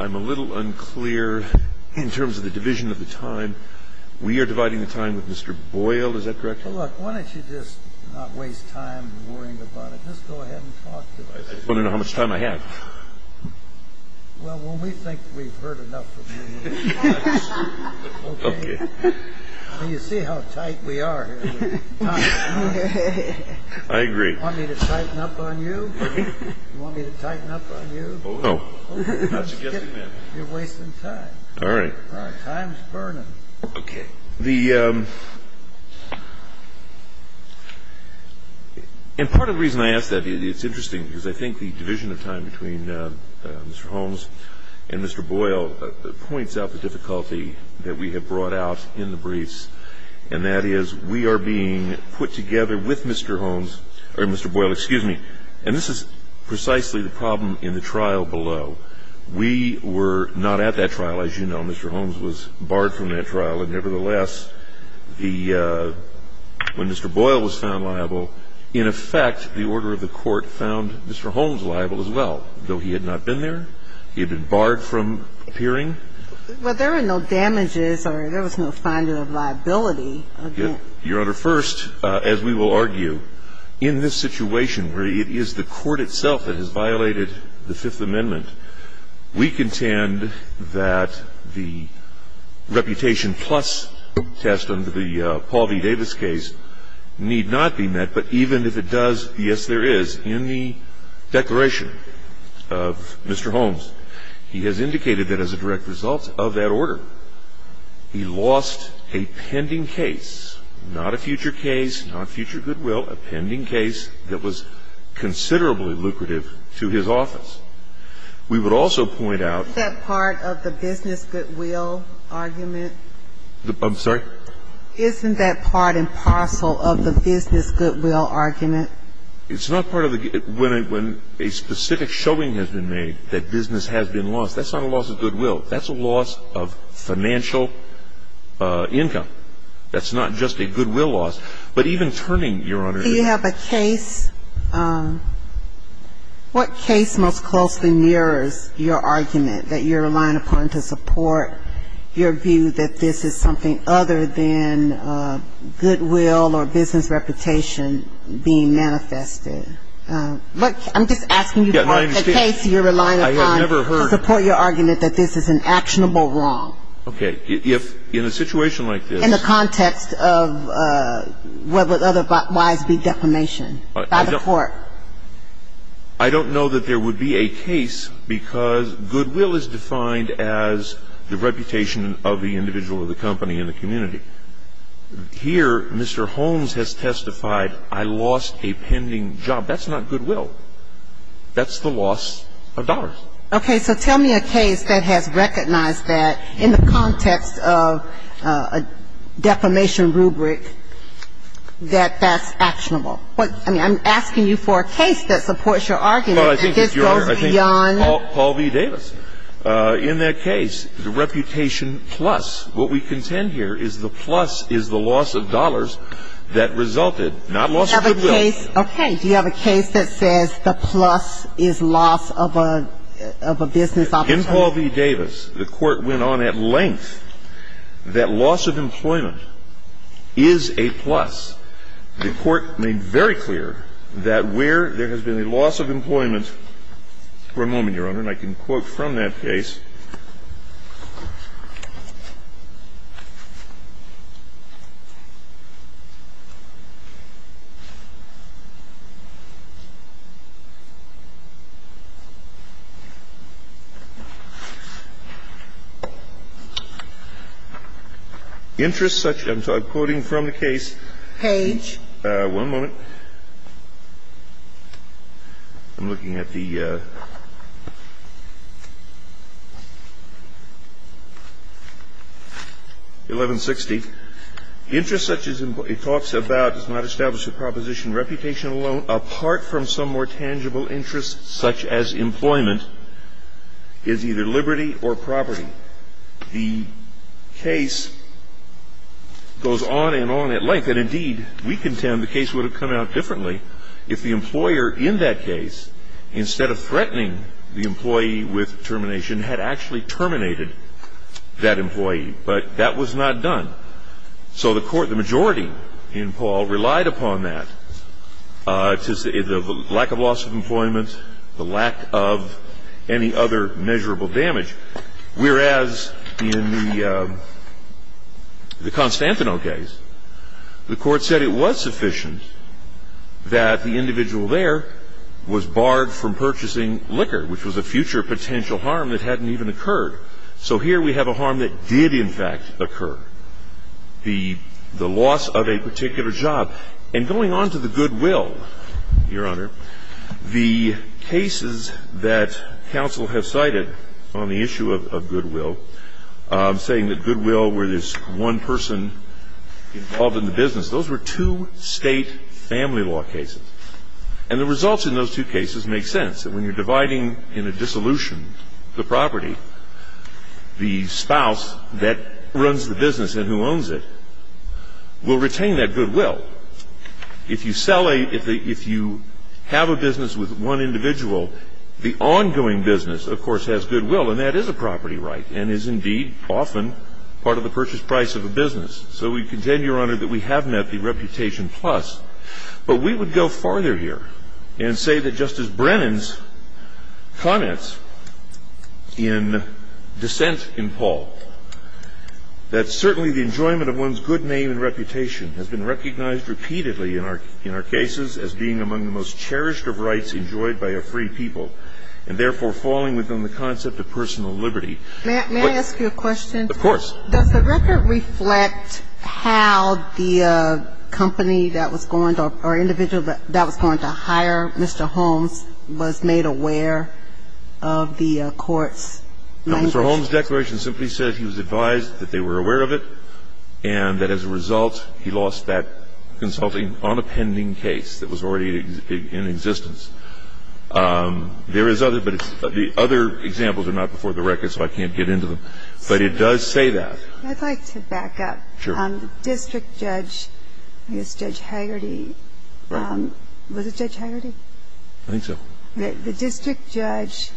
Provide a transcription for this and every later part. I'm a little unclear in terms of the division of the time. We are dividing the time with Mr. Boyle, is that correct? Well, look, why don't you just not waste time worrying about it? Just go ahead and talk to him. I don't know how much time I have. Well, when we think we've heard enough of you, you see how tight we are here. I agree. You want me to tighten up on you? You want me to tighten up on you? Oh, no. You're wasting time. All right. Time's burning. Okay. And part of the reason I ask that is it's interesting, because I think the division of time between Mr. Holmes and Mr. Boyle points out the difficulty that we have brought out in the briefs, and that is we are being put together with Mr. Holmes, or Mr. Boyle, excuse me, and this is precisely the problem in the trial below. We were not at that trial, as you know. Mr. Holmes was barred from that trial. Nevertheless, when Mr. Boyle was found liable, in effect, the order of the court found Mr. Holmes liable as well, though he had not been there. He had been barred from appearing. Well, there were no damages, or there was no finding of liability. Your Honor, first, as we will argue, in this situation where it is the court itself that has violated the Fifth Amendment, we contend that the reputation plus test under the Paul D. Davis case need not be met, but even if it does, yes, there is. In the declaration of Mr. Holmes, he has indicated that as a direct result of that order, he lost a pending case, not a future case, not future goodwill, a pending case that was considerably lucrative to his office. We would also point out- Isn't that part of the business goodwill argument? I'm sorry? Isn't that part and parcel of the business goodwill argument? It's not part of the- when a specific showing has been made that business has been lost, that's not a loss of goodwill. That's a loss of financial income. That's not just a goodwill loss. But even turning, Your Honor- Do you have a case- what case most closely mirrors your argument that you're relying upon to support your view that this is something other than goodwill or business reputation being manifested? I'm just asking you- Yeah, my understanding- A case you're relying upon- I have never heard- To support your argument that this is an actionable wrong. Okay. In a situation like this- In the context of whether other lives be defamation by the court. I don't know that there would be a case because goodwill is defined as the reputation of the individual or the company in the community. Here, Mr. Holmes has testified, I lost a pending job. That's not goodwill. That's the loss of dollars. Okay, so tell me a case that has recognized that in the context of a defamation rubric that that's actionable. I'm asking you for a case that supports your argument. Well, I think- This goes beyond- Paul D. Davis. In that case, the reputation plus, what we contend here is the plus is the loss of dollars that resulted, not loss of goodwill. Okay, do you have a case that says the plus is loss of a business opportunity? In Paul D. Davis, the court went on at length that loss of employment is a plus. The court made very clear that where there has been a loss of employment- For a moment, Your Honor, and I can quote from that case. I'm quoting from the case. Page. One moment. I'm looking at the 1160. It talks about, does not establish a proposition. Reputation alone, apart from some more tangible interest, such as employment, is either liberty or property. The case goes on and on at length. And, indeed, we contend the case would have come out differently if the employer in that case, instead of threatening the employee with termination, had actually terminated that employee. But that was not done. So the majority in Paul relied upon that. The lack of loss of employment, the lack of any other measurable damage. Whereas, in the Constantino case, the court said it was sufficient that the individual there was barred from purchasing liquor, which was a future potential harm that hadn't even occurred. So here we have a harm that did, in fact, occur. The loss of a particular job. And going on to the goodwill, Your Honor, the cases that counsel has cited on the issue of goodwill, saying that goodwill were this one person involved in the business. Those were two state family law cases. And the results in those two cases make sense. And when you're dividing in a dissolution the property, the spouse that runs the business and who owns it will retain that goodwill. If you sell a – if you have a business with one individual, the ongoing business, of course, has goodwill. And that is a property right and is, indeed, often part of the purchase price of a business. So we contend, Your Honor, that we have met the reputation plus. But we would go farther here and say that Justice Brennan's comments in dissent in Paul, that certainly the enjoyment of one's good name and reputation has been recognized repeatedly in our cases as being among the most cherished of rights enjoyed by a free people. And, therefore, falling within the concept of personal liberty. May I ask you a question? Of course. Does the record reflect how the company that was going to – or individual that was going to hire Mr. Holmes was made aware of the court's – Mr. Holmes' declaration simply says he was advised that they were aware of it and that, as a result, he lost that consulting on a pending case that was already in existence. There is other – but the other examples are not before the record, so I can't get into them. But it does say that. I'd like to back up. Sure. District judge, Judge Hagerty – was it Judge Hagerty? I think so. The district judge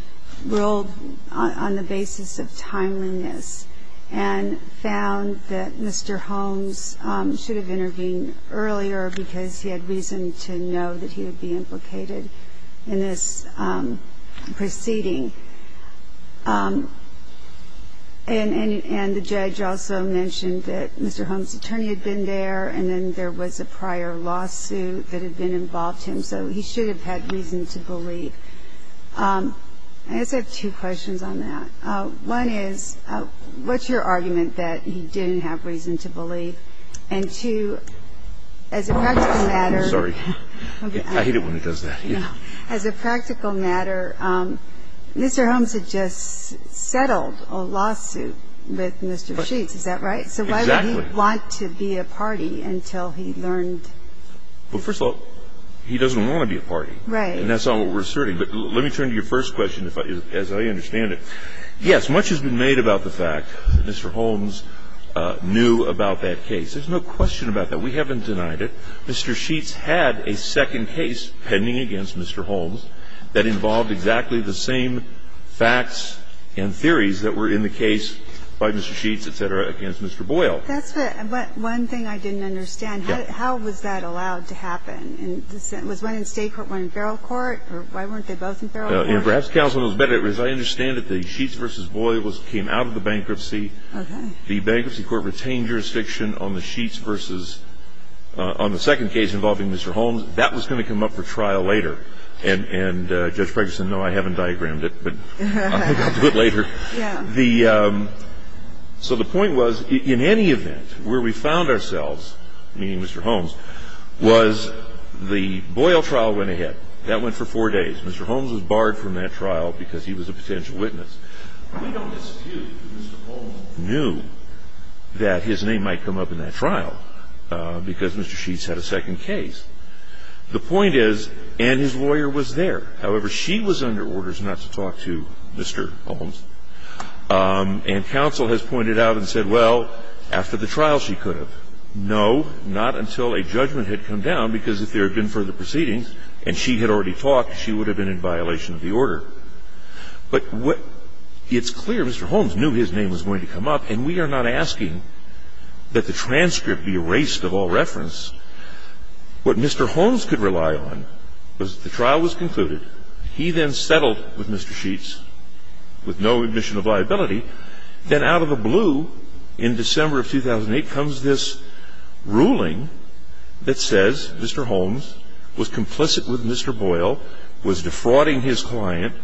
ruled on the basis of timeliness and found that Mr. Holmes should have intervened earlier because he had reason to know that he would be implicated in this proceeding. And the judge also mentioned that Mr. Holmes' attorney had been there and then there was a prior lawsuit that had been involved him, so he should have had reason to believe. I just have two questions on that. One is, what's your argument that he didn't have reason to believe? And, two, as a practical matter – Sorry. I hate it when it does that. As a practical matter, Mr. Holmes had just settled a lawsuit with Mr. Sheets. Is that right? Exactly. So why would he want to be a party until he learned – Well, first of all, he doesn't want to be a party. Right. And that's not what we're asserting. But let me turn to your first question, as I understand it. Yes, much has been made about the fact that Mr. Holmes knew about that case. There's no question about that. We haven't denied it. Mr. Sheets had a second case pending against Mr. Holmes that involved exactly the same facts and theories that were in the case by Mr. Sheets, etc., against Mr. Boyle. That's right. But one thing I didn't understand. How was that allowed to happen? Was one in state court, one in federal court? Why weren't they both in federal court? Perhaps counsel knows better. As I understand it, the Sheets v. Boyle came out of the bankruptcy. Okay. The bankruptcy court retained jurisdiction on the Sheets v. – on the second case involving Mr. Holmes. That was going to come up for trial later. And, Judge Ferguson, no, I haven't diagrammed it, but I think I'll do it later. Yeah. So the point was, in any event, where we found ourselves, meaning Mr. Holmes, was the Boyle trial went ahead. That went for four days. Mr. Holmes was barred from that trial because he was a potential witness. We don't argue that Mr. Holmes knew that his name might come up in that trial because Mr. Sheets had a second case. The point is, and his lawyer was there. However, she was under orders not to talk to Mr. Holmes. And counsel has pointed out and said, well, after the trial she could have. No, not until a judgment had come down, because if there had been further proceedings and she had already talked, she would have been in violation of the order. But it's clear Mr. Holmes knew his name was going to come up. And we are not asking that the transcript be erased of all reference. What Mr. Holmes could rely on was that the trial was concluded. He then settled with Mr. Sheets with no admission of liability. Then out of the blue, in December of 2008, comes this ruling that says Mr. Holmes was complicit with Mr. Boyle, was defrauding his client,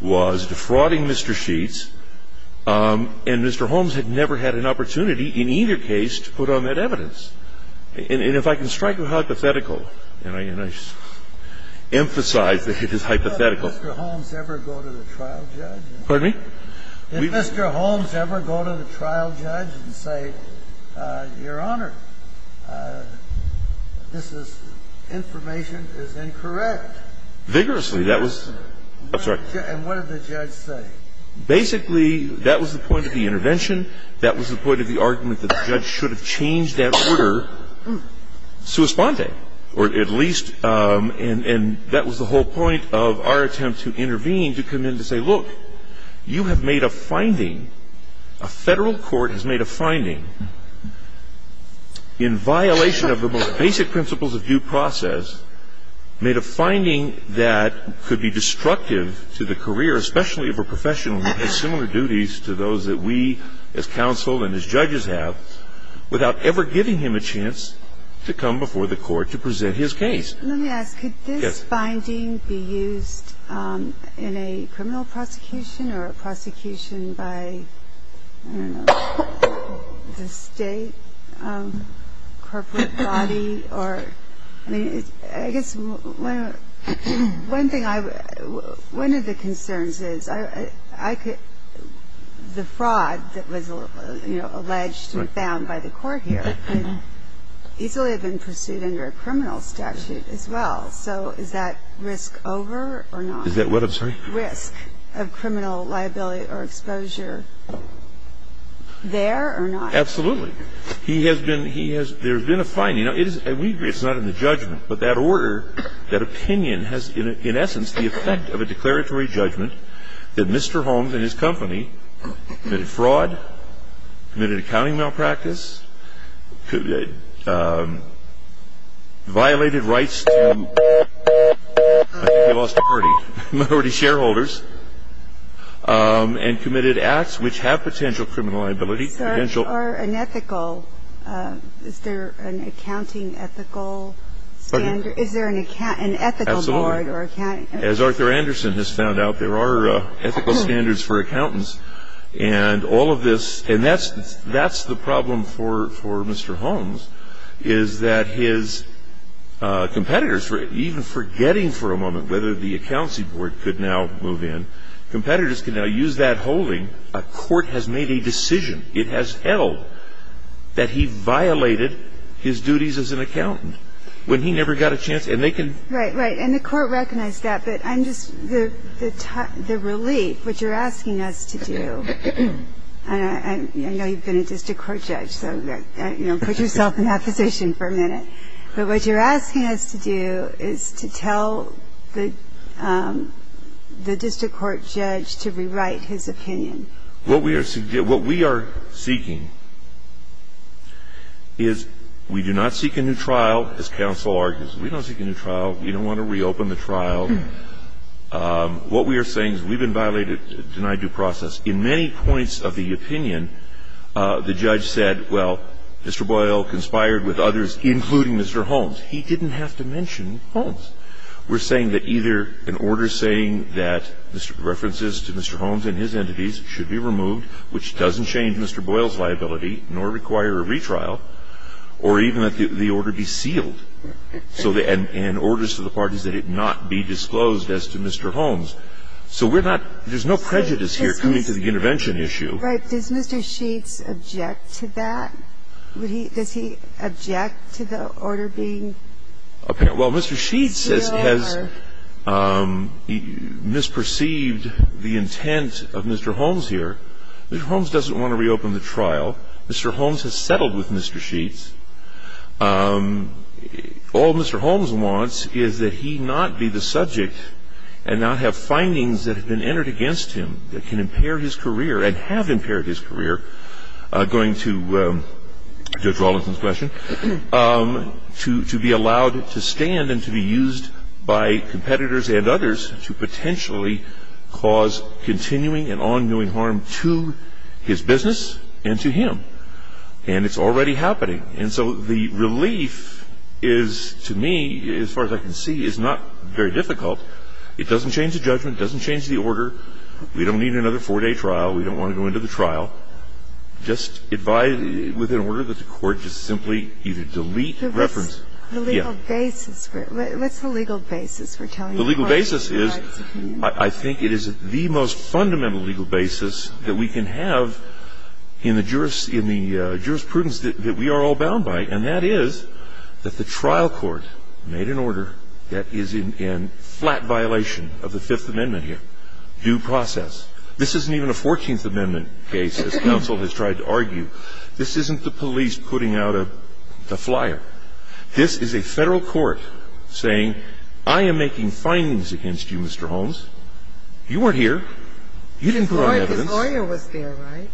was defrauding Mr. Sheets, and Mr. Holmes had never had an opportunity in either case to put on that evidence. And if I can strike a hypothetical, and I emphasize that it is hypothetical. Did Mr. Holmes ever go to the trial judge and say, Your Honor, this information is incorrect? Vigorously. And what did the judge say? Basically, that was the point of the intervention. That was the point of the argument that the judge should have changed that order. Or at least, and that was the whole point of our attempt to intervene, to come in and say, Look, you have made a finding, a federal court has made a finding in violation of the most basic principles of due process, made a finding that could be destructive to the career, especially of a professional who has similar duties to those that we, as counsel and as judges have, without ever giving him a chance to come before the court to present his case. Let me ask, could this finding be used in a criminal prosecution or a prosecution by, I don't know, a state corporate body? I mean, I guess one thing I would, one of the concerns is I could, the fraud that was, you know, So is that risk over or not? Is that what, I'm sorry? Risk of criminal liability or exposure there or not? Absolutely. He has been, he has, there has been a finding. Now, it is, it's not in the judgment, but that order, that opinion has, in essence, the effect of a declaratory judgment that Mr. Holmes and his company committed fraud, committed accounting malpractice, violated rights to minority shareholders, and committed acts which have potential criminal liability, potential Are unethical, is there an accounting ethical, is there an ethical board? Absolutely. As Arthur Anderson has found out, there are ethical standards for accountants. And all of this, and that's the problem for Mr. Holmes, is that his competitors, even forgetting for a moment whether the accountancy board could now move in, competitors can now use that holding. A court has made a decision, it has held, that he violated his duties as an accountant. When he never got a chance, and they can Right, right. And the court recognized that, but I'm just, the relief, what you're asking us to do, and I know you've been a district court judge, so put yourself in that position for a minute, but what you're asking us to do is to tell the district court judge to rewrite his opinion. What we are seeking is, we do not seek a new trial, as counsel argues, we don't seek a new trial, we don't want to reopen the trial. What we are saying is we've been violated, denied due process. In many points of the opinion, the judge said, well, Mr. Boyle conspired with others, including Mr. Holmes. He didn't have to mention Holmes. We're saying that either an order saying that references to Mr. Holmes and his entities should be removed, which doesn't change Mr. Boyle's liability, nor require a retrial, or even that the order be sealed. And orders to the parties that it not be disclosed as to Mr. Holmes. So we're not, there's no prejudice here coming to the intervention issue. Right, does Mr. Sheets object to that? Does he object to the order being reopened? Well, Mr. Sheets has misperceived the intent of Mr. Holmes here. Mr. Holmes doesn't want to reopen the trial. Mr. Holmes has settled with Mr. Sheets. All Mr. Holmes wants is that he not be the subject and not have findings that have been entered against him that can impair his career and have impaired his career, going to Judge Wallace's question, to be allowed to stand and to be used by competitors and others to potentially cause continuing and ongoing harm to his business and to him. And it's already happening. And so the relief is, to me, as far as I can see, is not very difficult. It doesn't change the judgment. It doesn't change the order. We don't need another four-day trial. We don't want to go into the trial. Just advise, within order of the court, to simply either delete the reference. The legal basis. What's the legal basis? The legal basis is, I think it is the most fundamental legal basis that we can have in the jurisprudence that we are all bound by, and that is that the trial court made an order that is in flat violation of the Fifth Amendment here, due process. This isn't even a Fourteenth Amendment case, as counsel has tried to argue. This isn't the police putting out a flyer. This is a federal court saying, I am making findings against you, Mr. Holmes. You weren't here. You didn't put out evidence. The lawyer was there, right?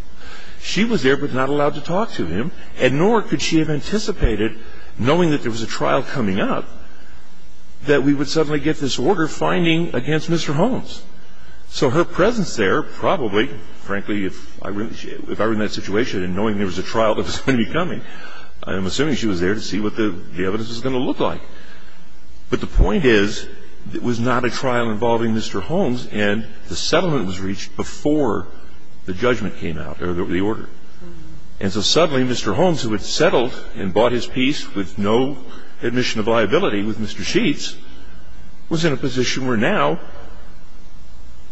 She was there but not allowed to talk to him, and nor could she have anticipated, knowing that there was a trial coming up, that we would suddenly get this order finding against Mr. Holmes. So her presence there probably, frankly, if I were in that situation and knowing there was a trial that was going to be coming, I'm assuming she was there to see what the evidence was going to look like. But the point is, it was not a trial involving Mr. Holmes, and the settlement was reached before the judgment came out, or the order. And so suddenly, Mr. Holmes, who had settled and bought his piece with no admission of liability with Mr. Sheets, was in a position where now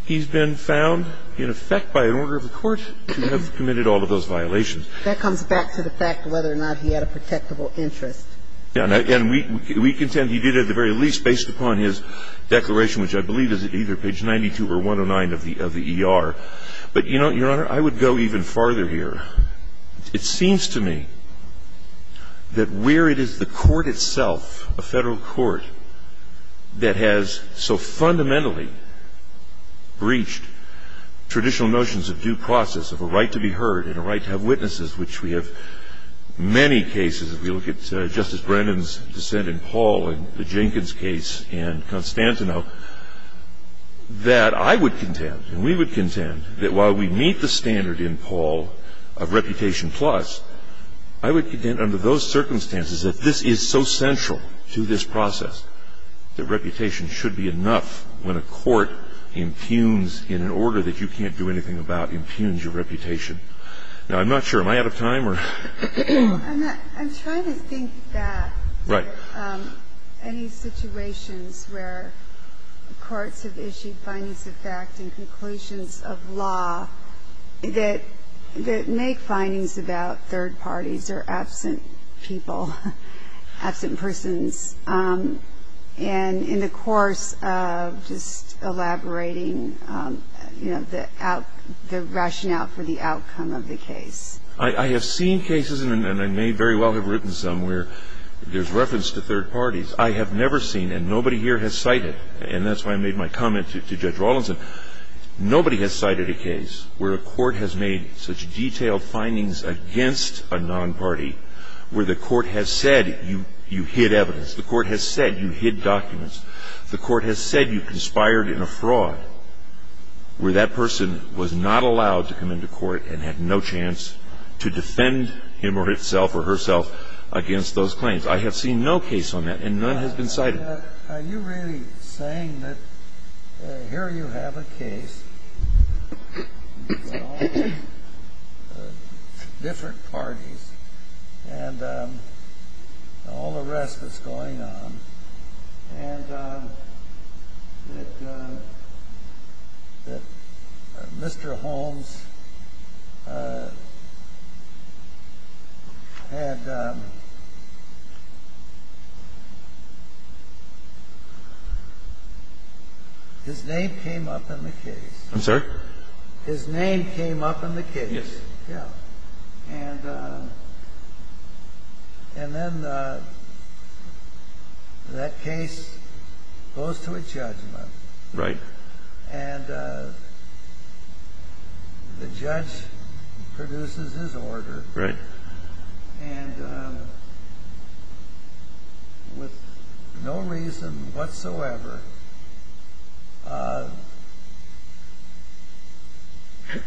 he's been found in effect by an order of the court to have committed all of those violations. That comes back to the fact of whether or not he had a protectable interest. And we contend he did at the very least, based upon his declaration, which I believe is either page 92 or 109 of the ER. But, Your Honor, I would go even farther here. It seems to me that where it is the court itself, a federal court, that has so fundamentally breached traditional notions of due process, of a right to be heard, and a right to have witnesses, which we have many cases. If we look at Justice Brennan's dissent in Paul and the Jenkins case in Constantino, that I would contend, and we would contend, that while we meet the standard in Paul of reputation plus, I would contend under those circumstances that this is so central to this process, that reputation should be enough when a court impugns in an order that you can't do anything about impugns your reputation. Now, I'm not sure. Am I out of time? I'm trying to think that any situation where courts have issued findings of fact and conclusions of law that make findings about third parties or absent people, absent persons, and in the course of just elaborating the rationale for the outcome of the case. I have seen cases, and I may very well have written some, where there's reference to third parties. I have never seen, and nobody here has cited, and that's why I made my comment to Judge Rawlinson, nobody has cited a case where a court has made such detailed findings against a non-party, where the court has said you hid evidence, the court has said you hid documents, the court has said you conspired in a fraud, where that person was not allowed to come into court and had no chance to defend him or herself against those claims. I have seen no case on that, and none has been cited. Are you really saying that here you have a case, with all the different parties and all the rest that's going on, and that Mr. Holmes had, and his name came up in the case. I'm sorry? His name came up in the case. Yes. Yeah. And then that case goes to a judgment. Right. And the judge produces his order. Right. And with no reason whatsoever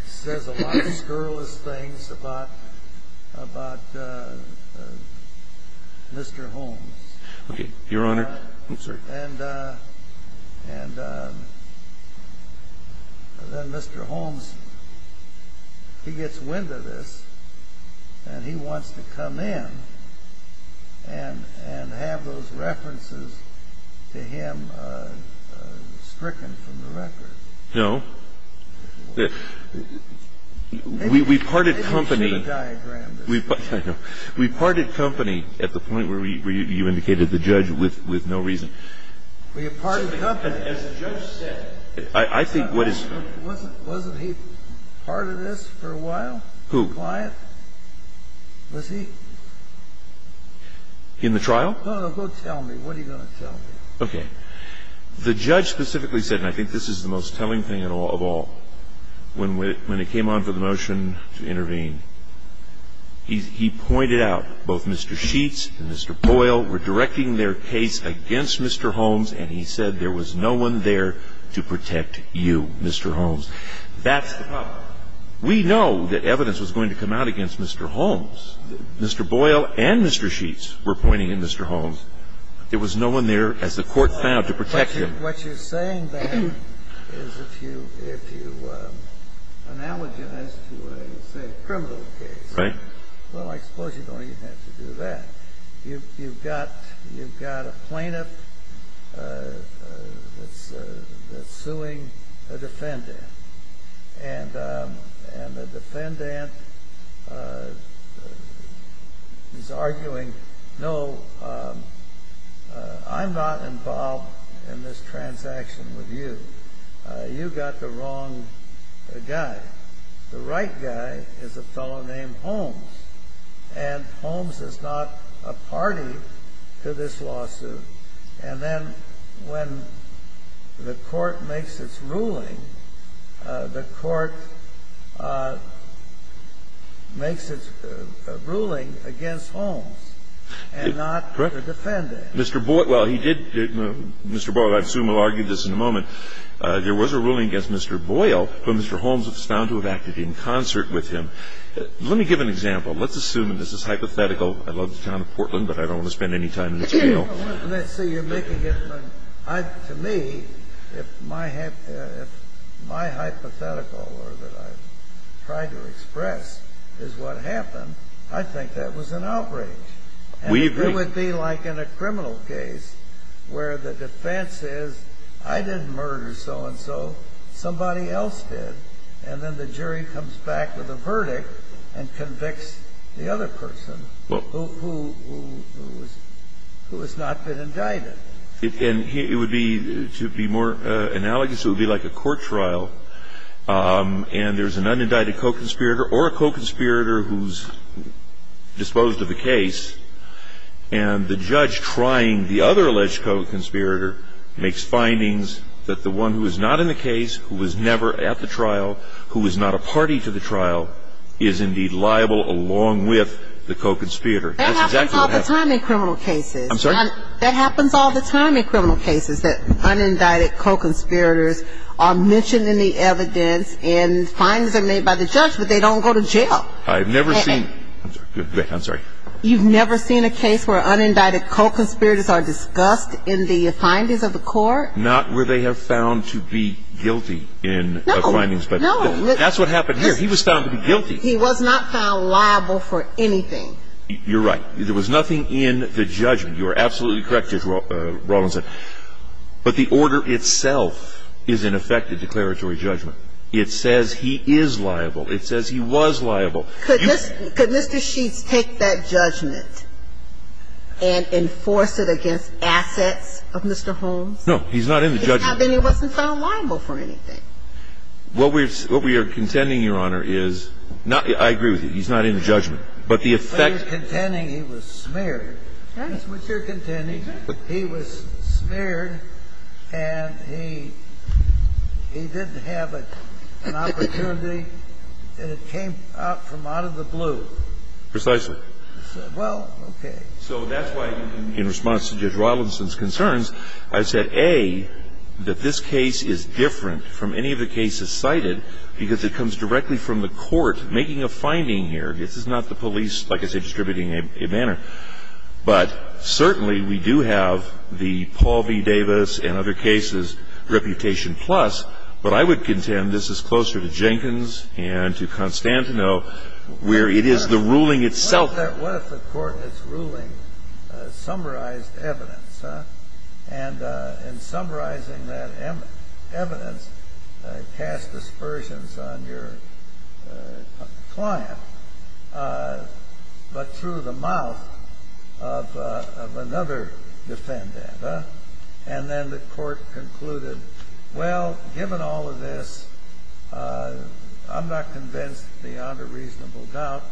says a lot of scurrilous things about Mr. Holmes. Okay. Your Honor? I'm sorry? And then Mr. Holmes, he gets wind of this, and he wants to come in and have those references to him stricken from the record. No. We parted company at the point where you indicated the judge with no reason. We parted company, as the judge said. Wasn't he part of this for a while? Who? The client? Was he? In the trial? No, no, go tell me. What are you going to tell me? Okay. The judge specifically said, and I think this is the most telling panel of all, when it came on for the motion to intervene, he pointed out both Mr. Sheets and Mr. Boyle were directing their case against Mr. Holmes, and he said there was no one there to protect you, Mr. Holmes. That's the problem. We know that evidence was going to come out against Mr. Holmes. Mr. Boyle and Mr. Sheets were pointing at Mr. Holmes. It was no one there, as the court found, to protect you. What you're saying, then, is if you analogy this to a criminal case. Right. Well, I suppose you don't even have to do that. You've got a plaintiff suing a defendant, and the defendant is arguing, no, I'm not involved in this transaction with you. You've got the wrong guy. The right guy is a fellow named Holmes, and Holmes is not a party to this lawsuit. And then when the court makes its ruling, the court makes its ruling against Holmes and not the defendant. Mr. Boyle, well, he did. Mr. Boyle, I assume, will argue this in a moment. There was a ruling against Mr. Boyle when Mr. Holmes was found to have acted in concert with him. Let me give an example. Let's assume, and this is hypothetical. I love the town of Portland, but I don't want to spend any time in this jail. To me, if my hypothetical or that I've tried to express is what happened, I think that was an outrage. We agree. It would be like in a criminal case where the defense says, I didn't murder so-and-so, somebody else did. And then the jury comes back with a verdict and convicts the other person who has not been indicted. And it would be, to be more analogous, it would be like a court trial, and there's an unindicted co-conspirator or a co-conspirator who's disposed of the case, and the judge trying the other alleged co-conspirator makes findings that the one who is not in the case, who was never at the trial, who is not a party to the trial, is indeed liable along with the co-conspirator. That happens all the time in criminal cases. I'm sorry? That happens all the time in criminal cases, that unindicted co-conspirators are mentioned in the evidence and findings are made by the judge, but they don't go to jail. I've never seen, I'm sorry. You've never seen a case where unindicted co-conspirators are discussed in the findings of the court? Not where they have found to be guilty in the findings. No, no. That's what happened here. He was found to be guilty. He was not found liable for anything. You're right. There was nothing in the judgment. You are absolutely correct, Judge Rawlings. But the order itself is in effect a declaratory judgment. It says he is liable. It says he was liable. Could Mr. Sheets take that judgment and enforce it against assets of Mr. Holmes? No, he's not in the judgment. Then he wasn't found liable for anything. What we are contending, Your Honor, is, I agree with you, he's not in the judgment. But he was contending he was smeared. That's what you're contending. He was smeared and he didn't have an opportunity and it came from out of the blue. Precisely. Well, okay. So that's why in response to Judge Rawlings' concerns, I said, A, that this case is different from any of the cases cited because it comes directly from the court making a finding here. This is not the police, like I said, distributing a banner. But certainly we do have the Paul B. Davis and other cases reputation plus. But I would contend this is closer to Jenkins and to Constantino where it is the ruling itself. What if the court that's ruling summarized evidence, and in summarizing that evidence, cast aspersions on your client but through the mouth of another defendant? And then the court concluded, well, given all of this, I'm not convinced beyond a reasonable doubt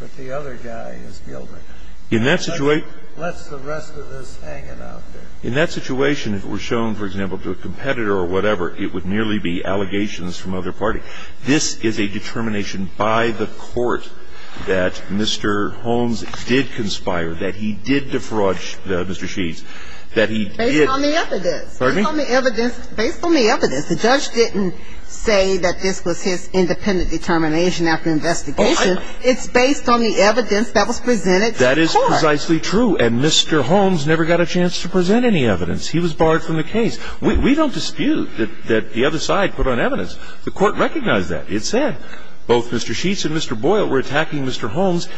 that the other guy is guilty unless the rest of us hang about there. In that situation, if it was shown, for example, to a competitor or whatever, it would merely be allegations from another party. This is a determination by the court that Mr. Holmes did conspire, that he did defraud Mr. Sheets, that he did. Based on the evidence. Pardon me? Based on the evidence. The judge didn't say that this was his independent determination after investigation. It's based on the evidence that was presented to the court. That is precisely true. And Mr. Holmes never got a chance to present any evidence. He was barred from the case. We don't dispute that the other side put on evidence. The court recognized that. It said both Mr. Sheets and Mr. Boyle were attacking Mr. Holmes,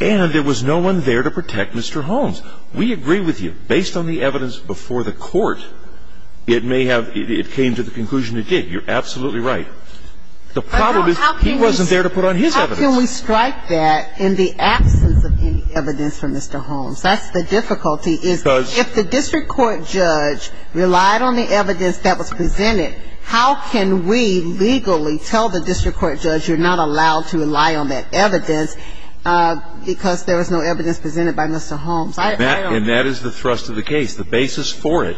and there was no one there to protect Mr. Holmes. We agree with you. Based on the evidence before the court, it came to the conclusion it did. You're absolutely right. The problem is he wasn't there to put on his evidence. How can we strike that in the absence of any evidence from Mr. Holmes? That's the difficulty. Because if the district court judge relied on the evidence that was presented, how can we legally tell the district court judge you're not allowed to rely on that evidence because there was no evidence presented by Mr. Holmes? And that is the thrust of the case. The basis for it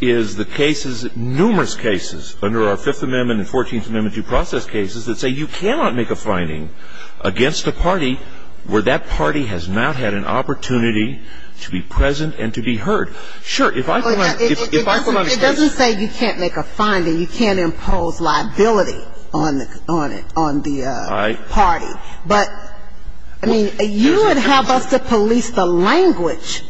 is the cases, numerous cases, under our Fifth Amendment and Fourteenth Amendment due process cases, that say you cannot make a finding against a party where that party has not had an opportunity to be present and to be heard. Sure, if I put on a case. It doesn't say you can't make a finding. You can't impose liability on the party. You would have us to police the language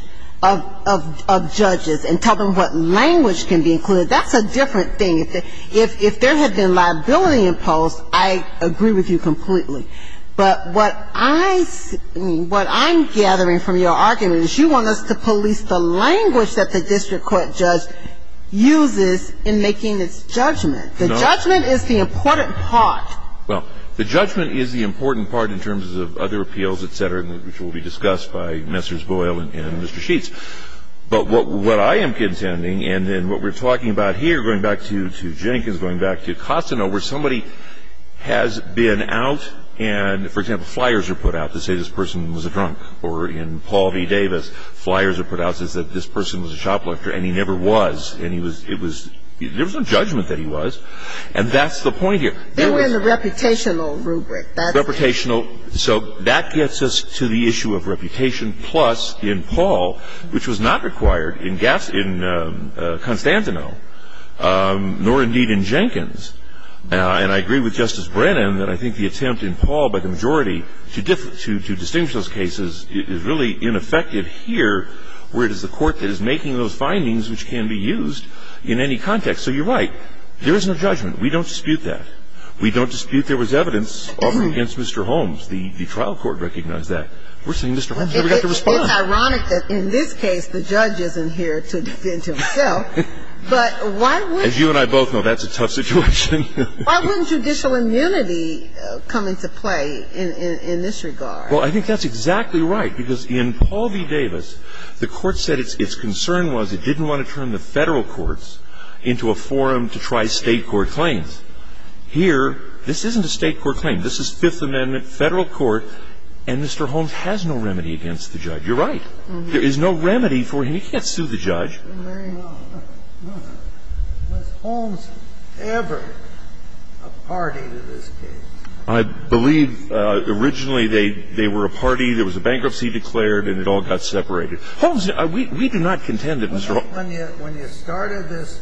of judges and tell them what language can be included. That's a different thing. If there had been liability imposed, I agree with you completely. But what I'm gathering from your argument is you want us to police the language that the district court judge uses in making its judgment. The judgment is the important part. Well, the judgment is the important part in terms of other appeals, et cetera, which will be discussed by Messrs. Boyle and Mr. Sheets. But what I am contending, and what we're talking about here, going back to Jenkins, going back to Costano, where somebody has been out and, for example, flyers are put out that say this person was a drunk. Or in Paul D. Davis, flyers are put out that say this person was a shoplifter and he never was. There was no judgment that he was. And that's the point here. They were in the reputational rubric. Reputational. So that gets us to the issue of reputation, plus in Paul, which was not required in Costantino, nor indeed in Jenkins. And I agree with Justice Brennan that I think the attempt in Paul by the majority to distinguish those cases is really ineffective here, where it is the court that is making those findings which can be used in any context. So you're right. There is no judgment. We don't dispute that. We don't dispute there was evidence against Mr. Holmes. The trial court recognized that. We're saying Mr. Holmes never got to respond. It's ironic that in this case the judge isn't here to defend himself. As you and I both know, that's a tough situation. Why wouldn't judicial immunity come into play in this regard? The court said its concern was it didn't want to turn the federal courts into a forum to try state court claims. Here, this isn't a state court claim. This is Fifth Amendment federal court, and Mr. Holmes has no remedy against the judge. You're right. There is no remedy for him. He can't sue the judge. I believe originally they were a party. There was a bankruptcy declared, and it all got separated. Holmes, we do not contend that Mr. Holmes. When you started this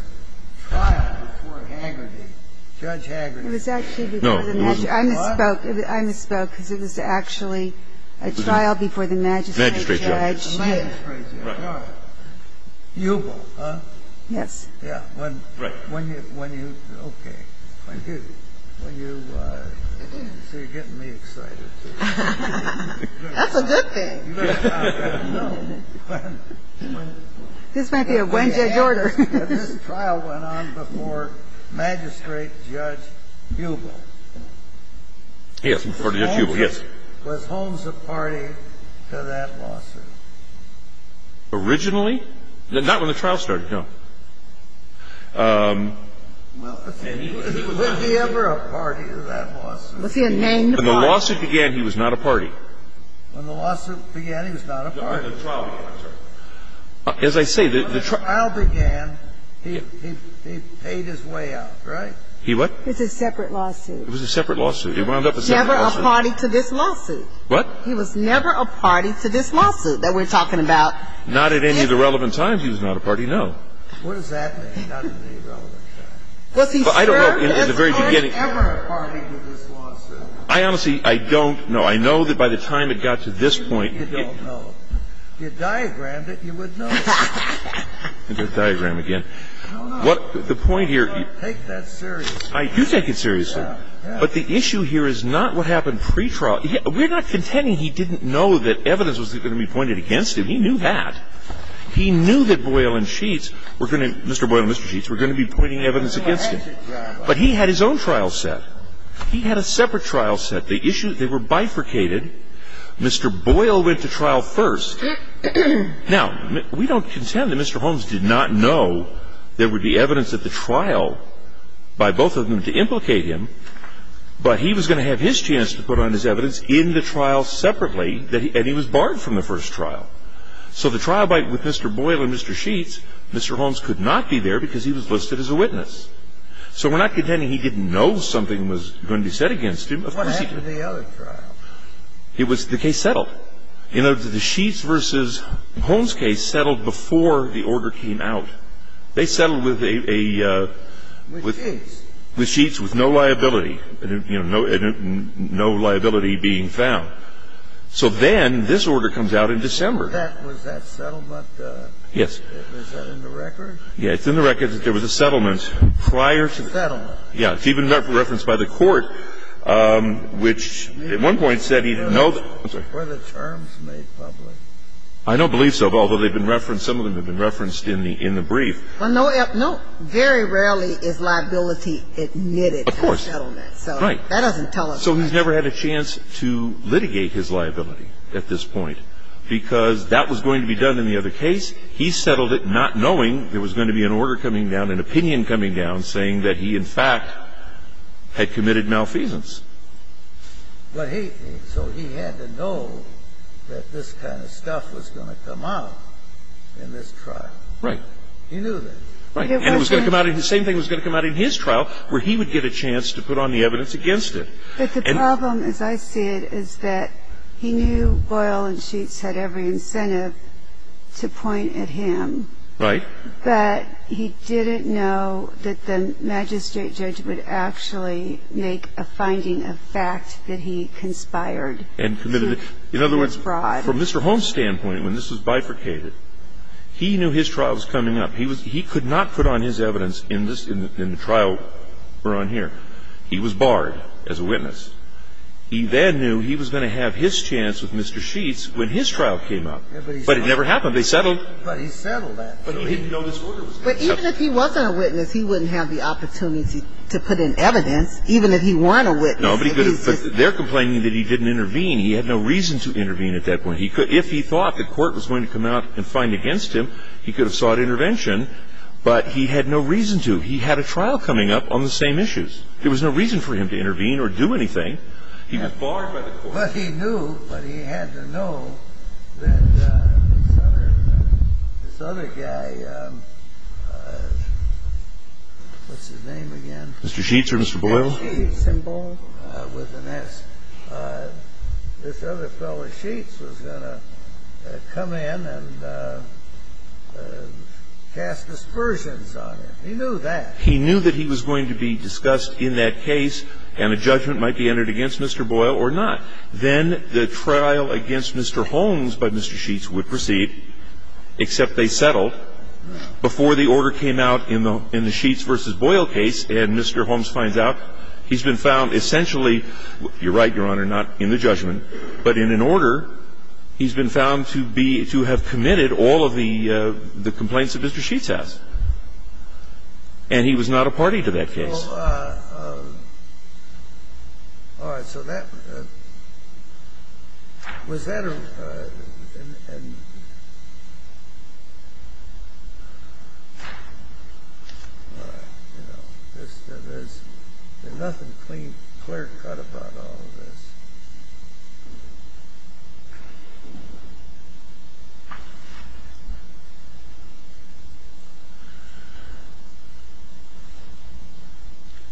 trial before Hagerty, Judge Hagerty. It was actually before the magistrate. I misspoke. I misspoke because it was actually a trial before the magistrate judge. The magistrate judge. The magistrate judge. You both, huh? Yes. Yeah. Right. When you, okay. When you, you're getting me excited. That's a good thing. This might be a Wednesday in order. This trial went on before Magistrate Judge Hubel. Yes, before Judge Hubel, yes. Was Holmes a party to that lawsuit? Originally? Not when the trial started, no. Was he ever a party to that lawsuit? Was he a named party? When the lawsuit began, he was not a party. When the lawsuit began, he was not a party. As I say, the trial began, he paid his way out, right? He what? It was a separate lawsuit. It was a separate lawsuit. He wound up with a separate lawsuit. He was never a party to this lawsuit. What? He was never a party to this lawsuit that we're talking about. Not at any of the relevant times he was not a party, no. What does that mean, not at any relevant time? Well, if he served. Was he ever a party to this lawsuit? I honestly, I don't know. I know that by the time it got to this point. You don't know. You diagrammed it, you would know. Let me do the diagram again. No, no. The point here. Take that seriously. I do take it seriously. Yeah, yeah. But the issue here is not what happened pre-trial. We're not contending he didn't know that evidence was going to be pointed against him. He knew that. He knew that Boyle and Sheets were going to, Mr. Boyle and Mr. Sheets, were going to be pointing evidence against him. But he had his own trial set. He had a separate trial set. The issues, they were bifurcated. Mr. Boyle went to trial first. Now, we don't contend that Mr. Holmes did not know there would be evidence at the trial by both of them to implicate him. But he was going to have his chance to put on his evidence in the trial separately, and he was barred from the first trial. So the trial with Mr. Boyle and Mr. Sheets, Mr. Holmes could not be there because he was listed as a witness. So we're not contending he didn't know something was going to be said against him. What happened in the other trial? The case settled. The Sheets versus Holmes case settled before the order came out. They settled with Sheets with no liability, no liability being found. So then this order comes out in December. Was that settlement in the records? Yes, it's in the records that there was a settlement prior to that. Settlement. Yes. It's even referenced by the court, which at one point said he didn't know that. Were the terms made public? I don't believe so, although they've been referenced, some of them have been referenced in the brief. Well, very rarely is liability admitted in a settlement. Of course. Right. So that doesn't tell us. So he's never had a chance to litigate his liability at this point because that was going to be done in the other case. He settled it not knowing there was going to be an order coming down, an opinion coming down saying that he, in fact, had committed malfeasance. So he had to know that this kind of stuff was going to come out in this trial. Right. He knew this. Right. And the same thing was going to come out in his trial where he would get a chance to put on the evidence against it. But the problem, as I see it, is that he knew Boyle and Sheets had every incentive to point at him. Right. But he didn't know that the magistrate judge would actually make a finding of fact that he conspired. In other words, from Mr. Holmes' standpoint, when this was bifurcated, he knew his trial was coming up. He could not put on his evidence in the trial we're on here. He was barred as a witness. He then knew he was going to have his chance with Mr. Sheets when his trial came up. But it never happened. They settled. But he settled that. But he didn't know this order was coming up. But even if he wasn't a witness, he wouldn't have the opportunity to put in evidence even if he weren't a witness. No, but they're complaining that he didn't intervene. He had no reason to intervene at that point. If he thought the court was going to come out and find against him, he could have sought intervention. But he had no reason to. He had a trial coming up on the same issues. There was no reason for him to intervene or do anything. He was barred by the court. Well, he knew, but he had to know that this other guy, what's his name again? Mr. Sheets or Mr. Boyle? Sheets and Boyle with an S. This other fellow, Sheets, was going to come in and cast aspersions on him. He knew that. He knew that he was going to be discussed in that case and a judgment might be entered against Mr. Boyle or not. Then the trial against Mr. Holmes by Mr. Sheets would proceed, except they settled before the order came out in the Sheets versus Boyle case. And Mr. Holmes finds out he's been found essentially, you're right, Your Honor, not in the judgment, but in an order. He's been found to have committed all of the complaints that Mr. Sheets has. And he was not a party to that case. All right. So that was that. And, you know, there's nothing clear-cut about all of this.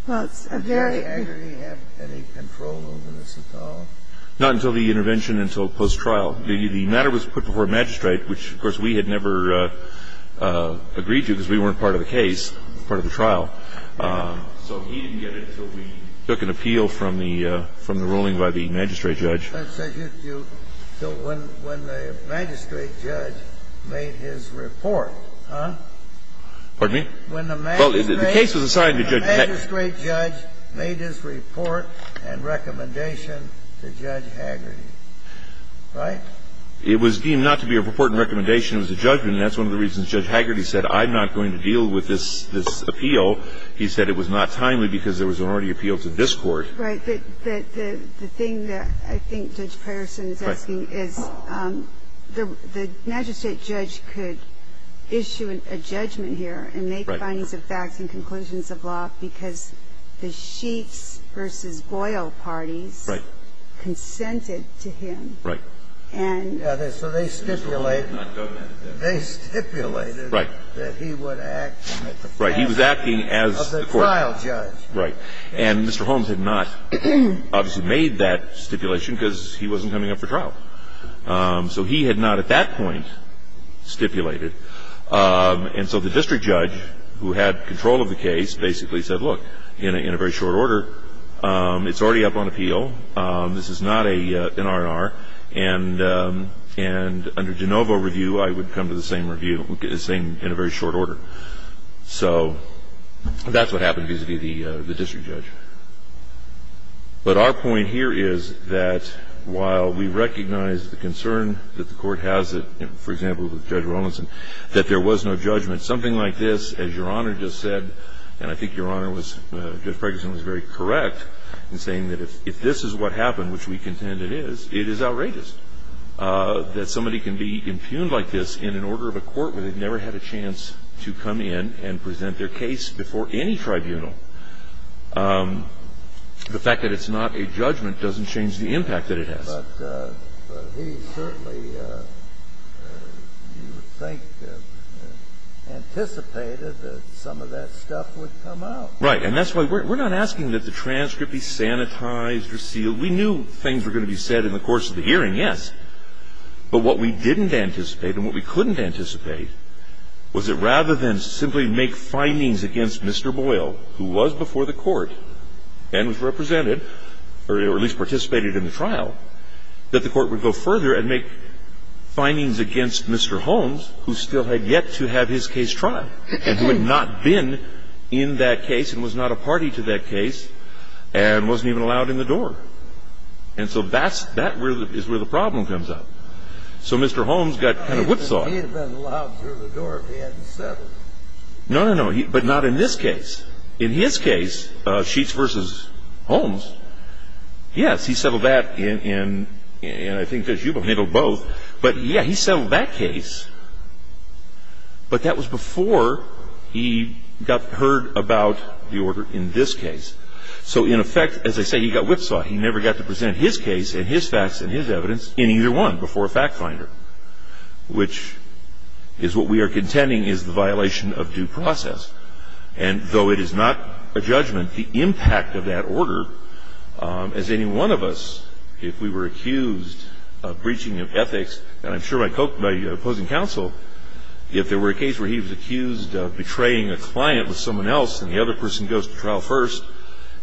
Does the jury actually have any control over this at all? Not until the intervention, until post-trial. The matter was put before magistrate, which, of course, we had never agreed to because we weren't part of the case, part of the trial. So he didn't get it until we took an appeal from the ruling by the magistrate judge. Let's take it to when the magistrate judge made his report. Huh? Pardon me? When the magistrate judge made his report and recommendation to Judge Haggerty. Right? It was deemed not to be a report and recommendation. It was a judgment. And that's one of the reasons Judge Haggerty said, I'm not going to deal with this appeal. He said it was not timely because there was already an appeal to this Court. Right. The thing that I think Judge Patterson is asking is the magistrate judge could issue a judgment here and make findings of fact and conclusions of law because the Sheets versus Boyle party consented to him. Right. So they stipulated that he would act as the trial judge. Right. And Mr. Holmes had not obviously made that stipulation because he wasn't coming up for trial. So he had not at that point stipulated. And so the district judge who had control of the case basically said, look, in a very short order, it's already up on appeal. This is not an R&R. And under de novo review, I would come to the same review, the same in a very short order. So that's what happened vis-à-vis the district judge. But our point here is that while we recognize the concern that the Court has, for example, with Judge Rollinson, that there was no judgment, something like this, as Your Honor just said, and I think Your Honor was, Judge Ferguson was very correct in saying that if this is what happened, which we contend it is, it is outrageous that somebody can be impugned like this in an order of a court where they've never had a chance to come in and present their case before any tribunal. The fact that it's not a judgment doesn't change the impact that it has. But he certainly, you would think, anticipated that some of that stuff would come out. Right. And that's why we're not asking that the transcript be sanitized or sealed. We knew things were going to be said in the course of the hearing, yes. But what we didn't anticipate and what we couldn't anticipate was that rather than simply make findings against Mr. Boyle, who was before the Court and was represented, or at least participated in the trial, that the Court would go further and make findings against Mr. Holmes, who still had yet to have his case tried, and who had not been in that case and was not a party to that case and wasn't even allowed in the door. And so that is where the problem comes up. So Mr. Holmes got kind of whipsawed. He would have been allowed through the door if he hadn't settled. No, no, no, but not in this case. In his case, Sheets v. Holmes, yes, he settled that, and I think that you've handled both. But, yeah, he settled that case. But that was before he got heard about the order in this case. So, in effect, as I say, he got whipsawed. He never got to present his case and his facts and his evidence in either one before a fact finder, which is what we are contending is the violation of due process. And though it is not a judgment, the impact of that order, as any one of us, if we were accused of breaching of ethics, and I'm sure by opposing counsel, if there were a case where he was accused of betraying a client with someone else and the other person goes to trial first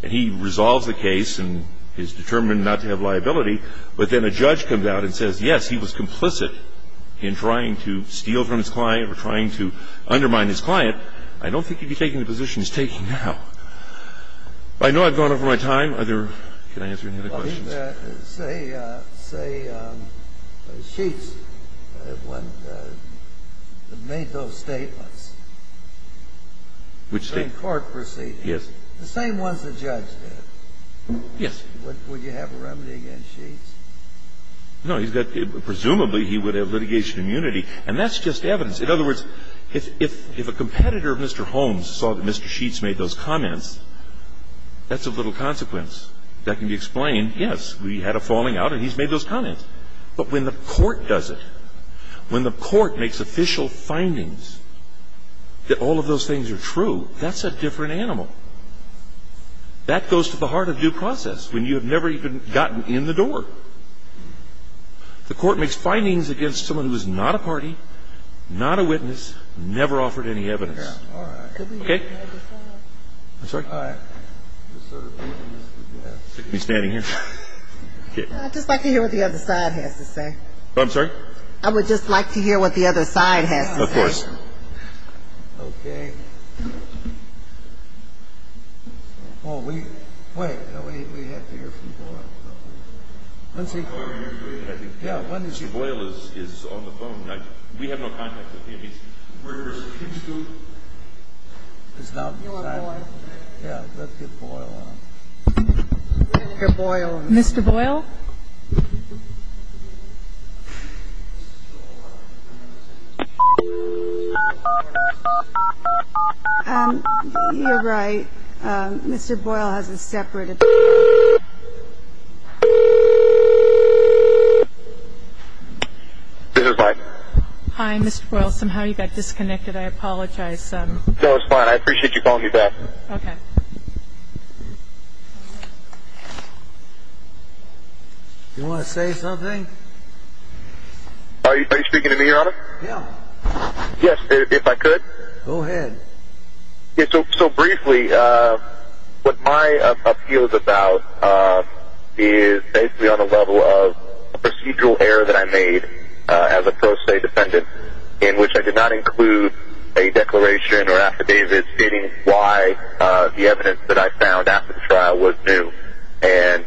and he resolves the case and is determined not to have liability, but then a judge comes out and says, yes, he was complicit in trying to steal from his client or trying to undermine his client, I don't think he'd be taking the position he's taking now. I know I've gone over my time. Can I answer any other questions? Say Sheets made those statements in court proceedings. Yes. The same ones the judge did. Yes. Would you have a remedy against Sheets? No. Presumably he would have litigation immunity. And that's just evidence. In other words, if a competitor of Mr. Holmes saw that Mr. Sheets made those comments, that's of little consequence. That can be explained, yes, we had a falling out and he's made those comments. But when the court does it, when the court makes official findings that all of those things are true, that's a different animal. That goes to the heart of due process when you have never even gotten in the door. The court makes findings against someone who is not a party, not a witness, never offered any evidence. Okay? I'm sorry? All right. You're standing here? I'd just like to hear what the other side has to say. I'm sorry? I would just like to hear what the other side has to say. Of course. Okay. Well, we have to hear from Boyle. Boyle is on the phone. We have no contact with any murderers. Mr. Boyle. Mr. Boyle? You're right. Mr. Boyle has a separate address. This is Mike. Hi, Mr. Boyle. Somehow you got disconnected. I apologize. No, it's fine. I appreciate you calling me back. Okay. You want to say something? Are you speaking to me, Your Honor? Yes. Yes, if I could. Go ahead. So briefly, what my appeal is about is basically on a level of procedural error that I made as a pro se defendant, in which I did not include a declaration or affidavit stating why the evidence that I found after the trial was new. And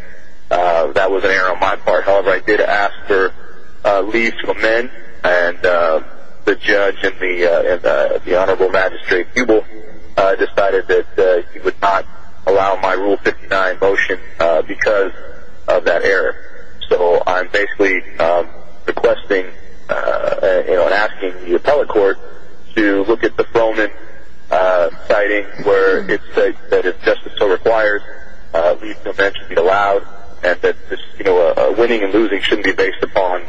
that was an error on my part. I did ask for leave to amend, and the judge and the honorable magistrate, Buble, decided that he would not allow my Rule 59 motion because of that error. So I'm basically requesting and asking the appellate court to look at the Froman citing where it says that if justice so requires, leave can eventually be allowed, and that winning and losing shouldn't be based upon,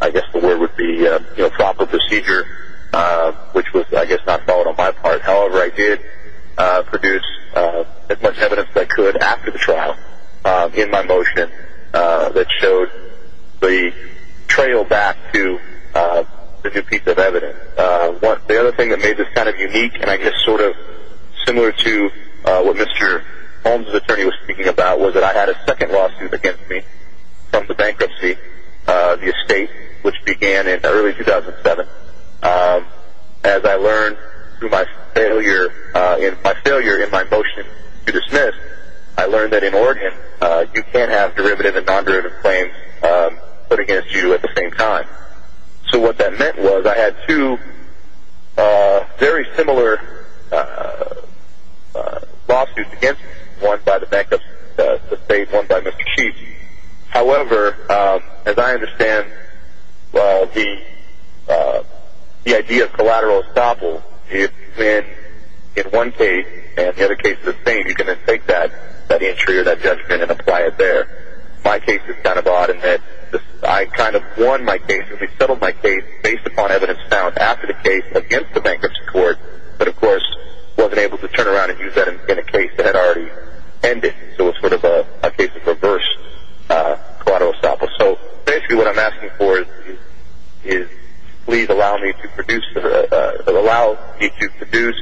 I guess the word would be, proper procedure, which was, I guess, not valid on my part. However, I did produce as much evidence as I could after the trial in my motion that showed the trail back to the new piece of evidence. The other thing that made this kind of unique, and I guess sort of similar to what Mr. Holmes' attorney was speaking about, was that I had a second lawsuit against me from the bankruptcy estate, which began in early 2007. As I learned through my failure in my motion to dismiss, I learned that in Oregon you can't have derivative and non-derivative claims put against you at the same time. So what that meant was I had two very similar lawsuits against me, one by the bank of the state, one by Mr. Sheets. However, as I understand the idea of collateral estoppel, if you win in one case and the other case is the same, you can then take that entry or that judgment and apply it there. My case was kind of odd in that I kind of won my case. I settled my case based upon evidence found after the case against the bankruptcy court, but of course wasn't able to turn around and use that in a case that had already ended. So it was sort of a case of reverse collateral estoppel. So basically what I'm asking for is please allow me to produce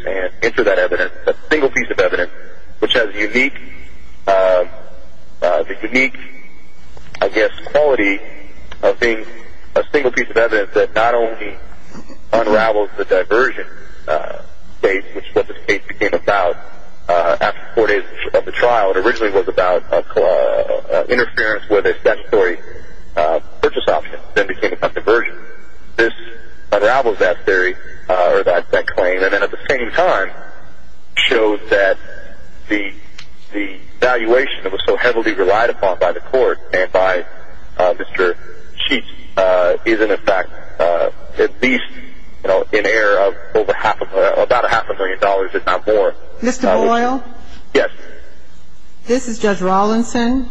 and enter that evidence, a single piece of evidence which has the unique, I guess, quality of being a single piece of evidence that not only unravels the diversion case, which is what this case became about after four days of the trial. It originally was about interference with a statutory purchase option, then became about diversion. This unravels that theory or that claim, and then at the same time, shows that the valuation that was so heavily relied upon by the court and by Mr. Sheets is in effect at least in error of about a half a million dollars, if not more. Mr. Boyle? Yes. This is Judge Rawlinson.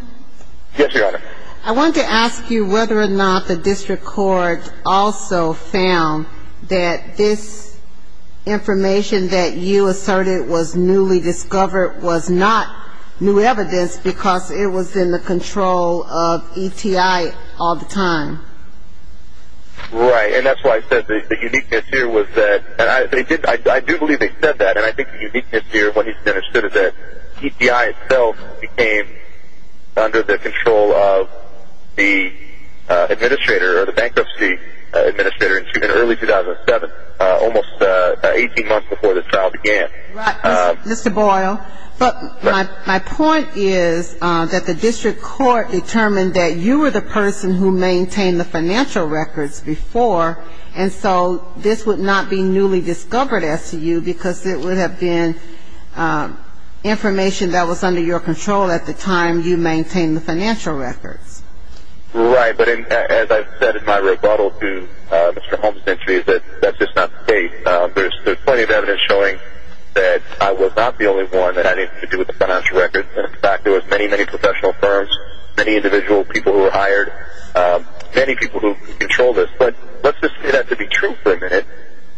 Yes, Your Honor. I wanted to ask you whether or not the district court also found that this information that you asserted was newly discovered was not new evidence because it was in the control of ETI all the time. Right, and that's why I said the uniqueness here was that, and I do believe they said that, and I think the uniqueness here of what he's understood is that ETI itself became under the control of the administrator or the bankruptcy administrator in early 2007, almost 18 months before the trial began. Right, Mr. Boyle. But my point is that the district court determined that you were the person who maintained the financial records before, and so this would not be newly discovered as to you because it would have been information that was under your control at the time you maintained the financial records. Right, but as I said in my rebuttal to Mr. Holmes' entry, that's just not the case. There's plenty of evidence showing that I was not the only one that had anything to do with the financial records. In fact, there were many, many professional firms, many individual people who were hired, many people who controlled this. But let's just do that to be true for a minute.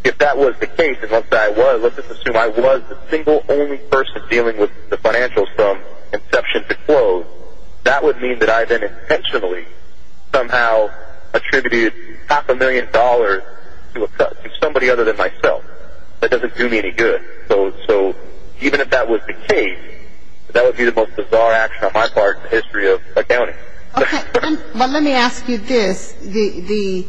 If that was the case and that's what I was, let's just assume I was the single only person dealing with the financials from inception to close, that would mean that I then intentionally somehow attributed half a million dollars to somebody other than myself. That doesn't do me any good. So even if that was the case, that would be the most bizarre action on my part in the history of accounting. Okay. Well, let me ask you this. The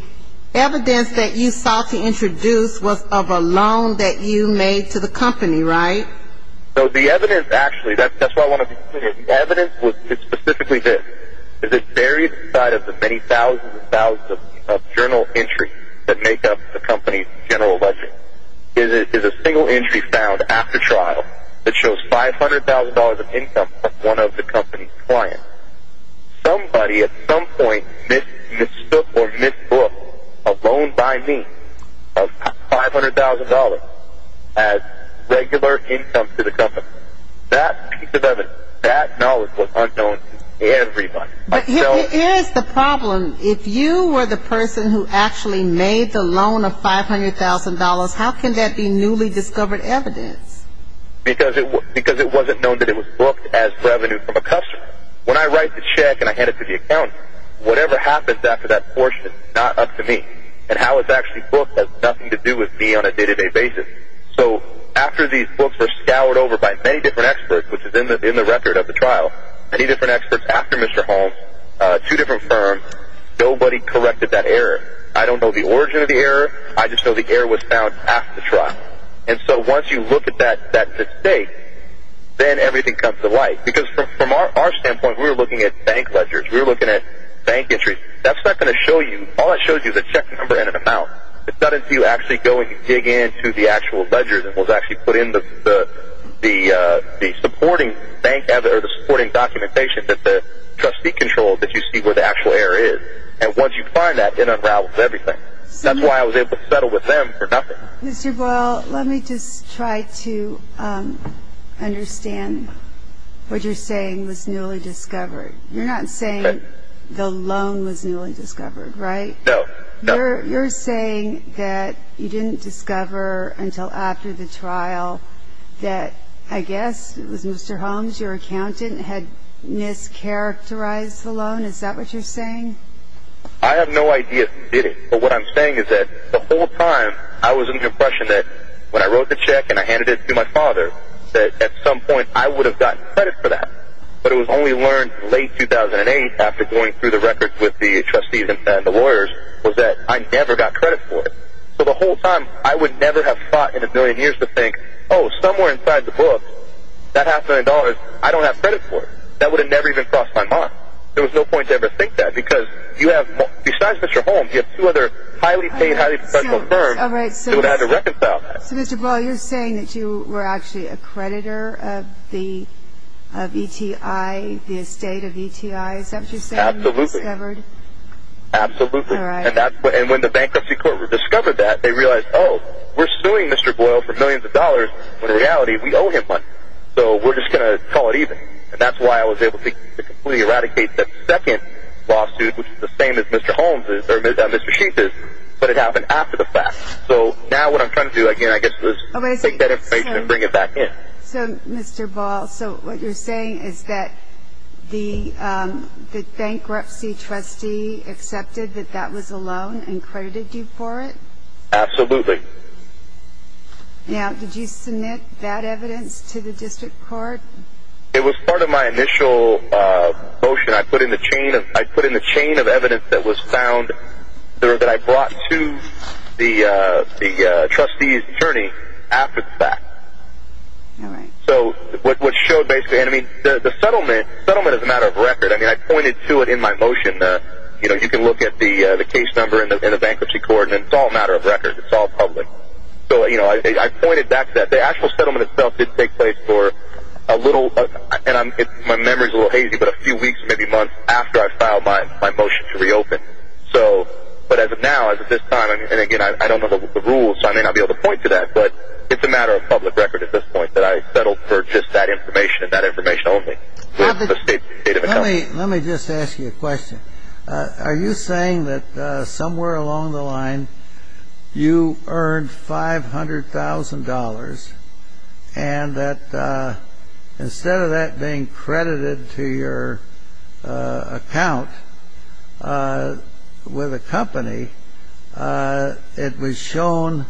evidence that you sought to introduce was of a loan that you made to the company, right? So the evidence actually, that's why I want to be clear. The evidence was specifically this. It's buried inside of the many thousands and thousands of journal entries that make up the company's general budget. It is a single entry found after trial that shows $500,000 of income from one of the company's clients. Somebody at some point mistook or misbooked a loan by me of $500,000 as regular income to the company. That piece of evidence, that knowledge was unknown to everybody. But here is the problem. If you were the person who actually made the loan of $500,000, how can that be newly discovered evidence? Because it wasn't known that it was booked as revenue from a customer. When I write the check and I hand it to the accountant, whatever happens after that portion is not up to me. And how it's actually booked has nothing to do with me on a day-to-day basis. So after these books were scoured over by many different experts, which is in the record of the trial, many different experts after Mr. Holmes, two different firms, nobody corrected that error. I don't know the origin of the error. I just know the error was found after the trial. And so once you look at that mistake, then everything comes to light. Because from our standpoint, we were looking at bank ledgers. We were looking at bank entries. That's not going to show you. All that shows you is a check number and an amount. Instead of you actually going to dig into the actual ledgers, it was actually put in the supporting documentation that the trustee controlled that you see where the actual error is. And once you find that, it unravels everything. That's why I was able to settle with them for nothing. Mr. Boyle, let me just try to understand what you're saying with newly discovered. You're not saying the loan was newly discovered, right? No. You're saying that you didn't discover until after the trial that, I guess, it was Mr. Holmes, your accountant, had mischaracterized the loan? Is that what you're saying? I have no idea. But what I'm saying is that the whole time I was under the impression that when I wrote the check and I handed it to my father that at some point I would have gotten credit for that. But what I only learned in late 2008 after going through the records with the trustees and the lawyers was that I never got credit for it. So the whole time I would never have thought in a billion years to think, oh, somewhere inside the book, that $500,000, I don't have credit for it. That would have never even crossed my mind. There was no point to ever think that because you have, besides Mr. Holmes, you have two other highly paid, highly professional firms that would have had to reconcile that. Mr. Boyle, you're saying that you were actually a creditor of ETI, the estate of ETI. Is that what you're saying? Absolutely. Absolutely. And when the bankruptcy court discovered that, they realized, oh, we're suing Mr. Boyle for millions of dollars, but in reality we owe him money. So we're just going to call it even. And that's why I was able to completely eradicate that second lawsuit, which is the same as Mr. Holmes' or Mr. Sheath's, but it happened after the fact. So now what I'm trying to do, again, I guess, is take that information and bring it back in. So, Mr. Boyle, so what you're saying is that the bankruptcy trustee accepted that that was a loan and credited you for it? Absolutely. Now, did you submit that evidence to the district court? It was part of my initial motion. I put in the chain of evidence that was found that I brought to the trustee's attorney after the fact. So what showed basically, I mean, the settlement is a matter of record. I mean, I pointed to it in my motion. You know, you can look at the case number in the bankruptcy court, and it's all a matter of record. It's all public. So, you know, I pointed back to that. The actual settlement itself did take place for a little, and my memory is a little hazy, but a few weeks, maybe months after I filed my motion to reopen. But as of now, as of this time, and again, I don't know the rules, so I may not be able to point to that, but it's a matter of public record at this point that I settled for just that information and that information only. Let me just ask you a question. Are you saying that somewhere along the line you earned $500,000 and that instead of that being credited to your account with a company, it was shown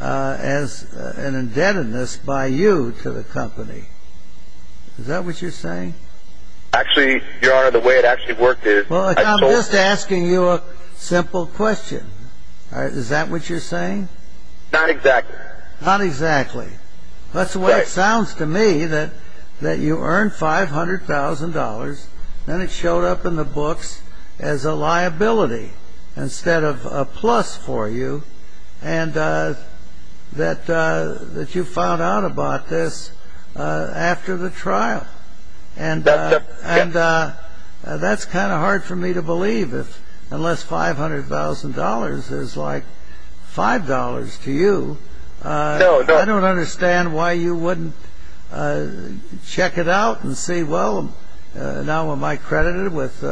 as an indebtedness by you to the company? Is that what you're saying? Actually, Your Honor, the way it actually worked is I told you. Well, I'm just asking you a simple question. Is that what you're saying? Not exactly. Not exactly. That's what it sounds to me, that you earned $500,000, then it showed up in the books as a liability instead of a plus for you, and that you found out about this after the trial. And that's kind of hard for me to believe unless $500,000 is like $5 to you. I don't understand why you wouldn't check it out and say, well, now am I credited with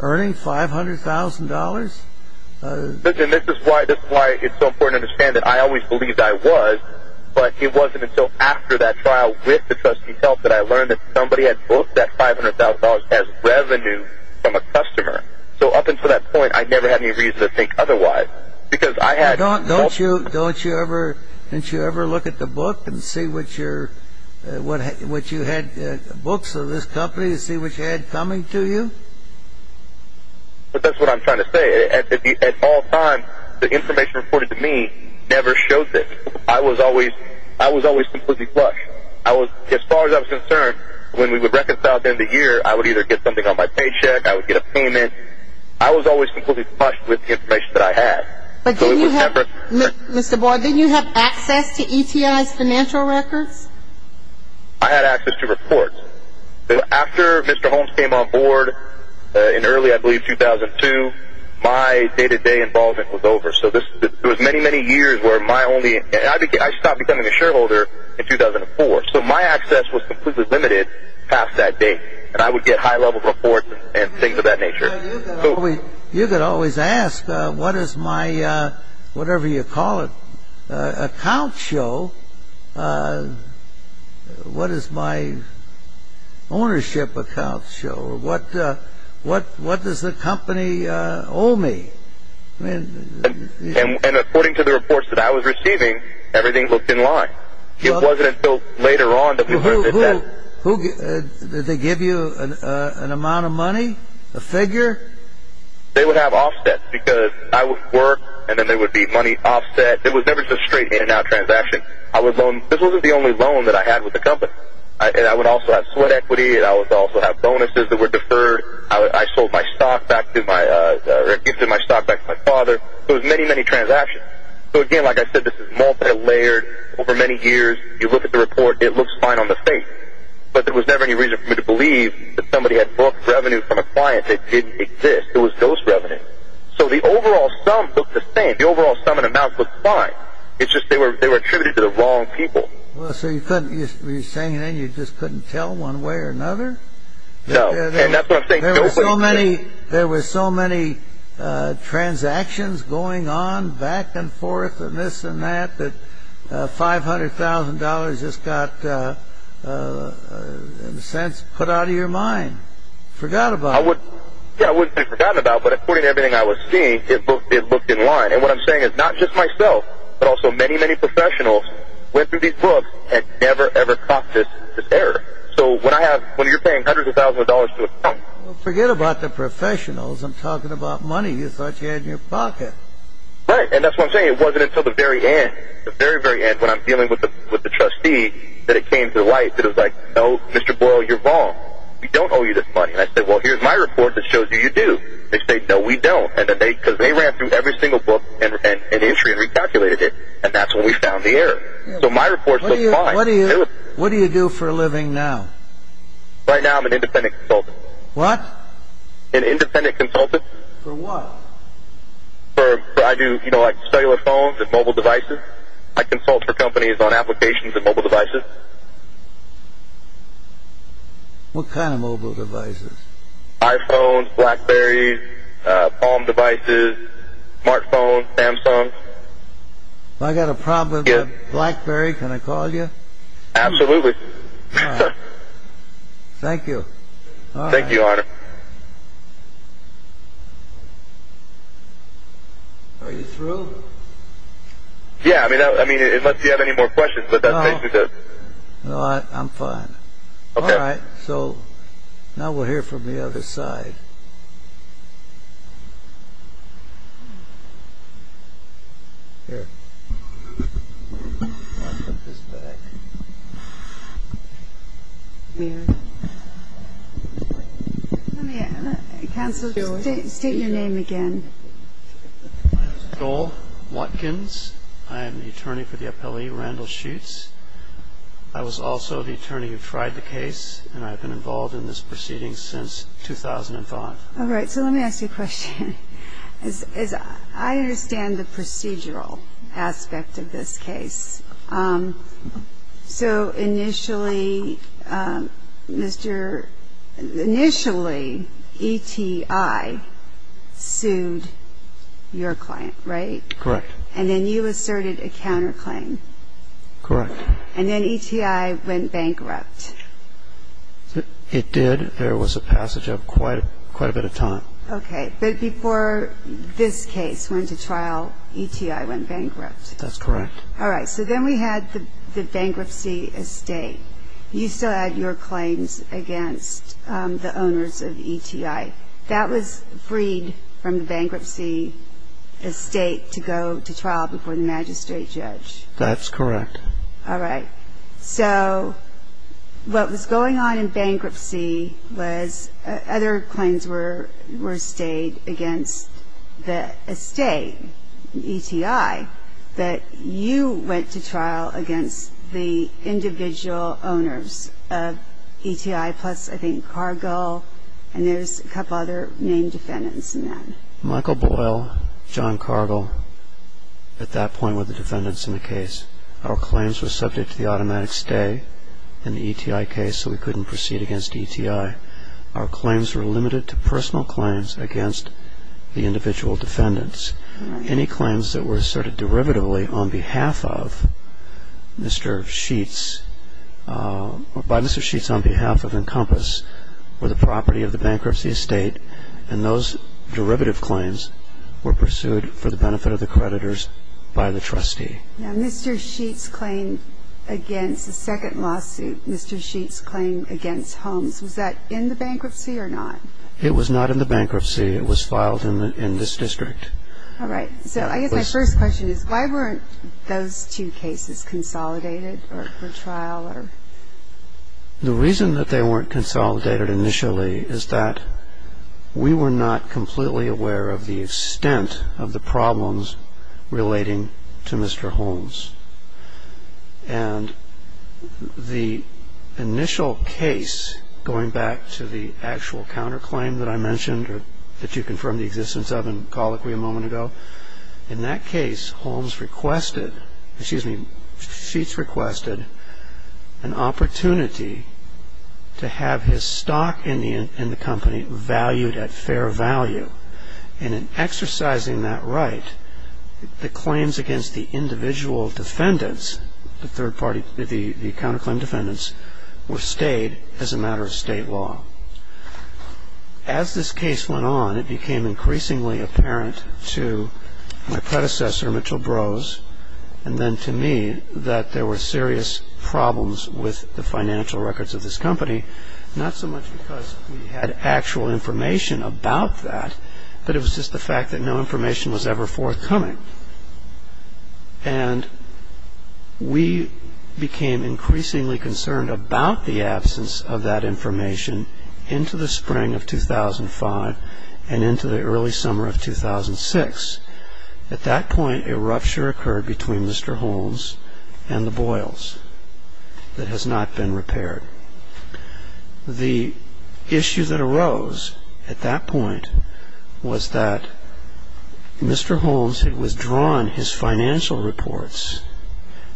earning $500,000? This is why it's so important to understand that I always believed I was, but it wasn't until after that trial with the trustee's help that I learned that somebody had both that $500,000 as revenue from a customer. So up until that point, I never had any reason to think otherwise. Don't you ever look at the book and see what you had books of this company and see what you had coming to you? But that's what I'm trying to say. At all times, the information reported to me never showed this. I was always completely flushed. As far as I was concerned, when we would reconcile at the end of the year, I would either get something on my paycheck, I would get a payment. I was always completely flushed with the information that I had. But do you have access to ETI's financial records? I had access to reports. After Mr. Holmes came on board in early, I believe, 2002, my day-to-day involvement was over. So it was many, many years where my only, and I stopped becoming a shareholder in 2004. So my access was completely limited past that date, and I would get high-level reports and things of that nature. You get always asked, what does my, whatever you call it, account show? What does my ownership account show? What does the company owe me? And according to the reports that I was receiving, everything looked in line. It wasn't until later on that we learned that that. Did they give you an amount of money, a figure? They would have offsets because I would work, and then there would be money offset. It was never just a straight in-and-out transaction. I would loan. This wasn't the only loan that I had with the company. And I would also have sweat equity, and I would also have bonuses that were deferred. I sold my stock back to my father. It was many, many transactions. So again, like I said, this is multilayered. Over many years, you look at the report, it looks fine on the face. But there was never any reason for me to believe that somebody had booked revenue from a client. It didn't exist. It was ghost revenue. So the overall sum looked the same. The overall sum and amount looked fine. It's just they were attributed to the wrong people. So you couldn't say anything? You just couldn't tell one way or another? No, and that's what I'm saying. There were so many transactions going on, back and forth, and this and that, that $500,000 just got, in a sense, put out of your mind, forgot about. Yeah, it wouldn't have been forgotten about. But according to everything I was seeing, it looked in line. And what I'm saying is not just myself, but also many, many professionals went through these books and never, ever caught this error. So when you're paying hundreds of thousands of dollars to a client. Forget about the professionals. I'm talking about money you thought you had in your pocket. Right, and that's what I'm saying. It wasn't until the very end, the very, very end, when I'm dealing with the trustee, that it came to light, that it was like, no, Mr. Boyle, you're wrong. We don't owe you this money. And I said, well, here's my report that shows you do. They said, no, we don't. And then they, because they ran through every single book and entry and recalculated it. And that's when we found the error. So my report looks fine. What do you do for a living now? Right now I'm an independent consultant. What? An independent consultant. For what? For, I do, you know, like cellular phones and mobile devices. I consult for companies on applications of mobile devices. What kind of mobile devices? iPhones, BlackBerrys, home devices, smartphones, Samsung. If I've got a problem with BlackBerry, can I call you? Absolutely. Thank you. Thank you, Your Honor. Are you through? Yeah, I mean, unless you have any more questions, but that's basically it. No, I'm fine. Okay. All right. So now we'll hear from the other side. Here. Take your name again. Joel Watkins. I am the attorney for the appellee, Randall Sheets. I was also the attorney who tried the case, and I've been involved in this proceeding since 2005. All right. So let me ask you a question. I understand the procedural aspect of this case. So initially, Mr. – initially, ETI sued your client, right? Correct. And then you asserted a counterclaim. Correct. And then ETI went bankrupt. It did. There was a passage of quite a bit of time. Okay. But before this case went to trial, ETI went bankrupt. That's correct. All right. So then we had the bankruptcy estate. You still had your claims against the owners of ETI. That was freed from the bankruptcy estate to go to trial before the magistrate judge. That's correct. All right. So what was going on in bankruptcy was other claims were stayed against the estate, ETI, that you went to trial against the individual owners of ETI plus, I think, Cargill, and there's a couple other main defendants in that. Michael Boyle, John Cargill, at that point were the defendants in the case. Our claims were subject to the automatic stay in the ETI case, so we couldn't proceed against ETI. Our claims were limited to personal claims against the individual defendants. Any claims that were asserted derivatively on behalf of Mr. Sheets – by Mr. Sheets on behalf of Encompass or the property of the bankruptcy estate – and those derivative claims were pursued for the benefit of the creditors by the trustee. Now, Mr. Sheets' claim against the second lawsuit, Mr. Sheets' claim against Holmes, was that in the bankruptcy or not? It was not in the bankruptcy. It was filed in this district. All right. So I guess my first question is why weren't those two cases consolidated for trial? The reason that they weren't consolidated initially is that we were not completely aware of the extent of the problems relating to Mr. Holmes. And the initial case, going back to the actual counterclaim that I mentioned or that you confirmed the existence of in colloquy a moment ago, in that case, Sheets requested an opportunity to have his stock in the company valued at fair value. And in exercising that right, the claims against the individual defendants, the counterclaim defendants, were stayed as a matter of state law. As this case went on, it became increasingly apparent to my predecessor, Mitchell Brose, and then to me, that there were serious problems with the financial records of this company, not so much because we had actual information about that, but it was just the fact that no information was ever forthcoming. And we became increasingly concerned about the absence of that information into the spring of 2005 and into the early summer of 2006. At that point, a rupture occurred between Mr. Holmes and the Boyles that has not been repaired. The issue that arose at that point was that Mr. Holmes had withdrawn his financial reports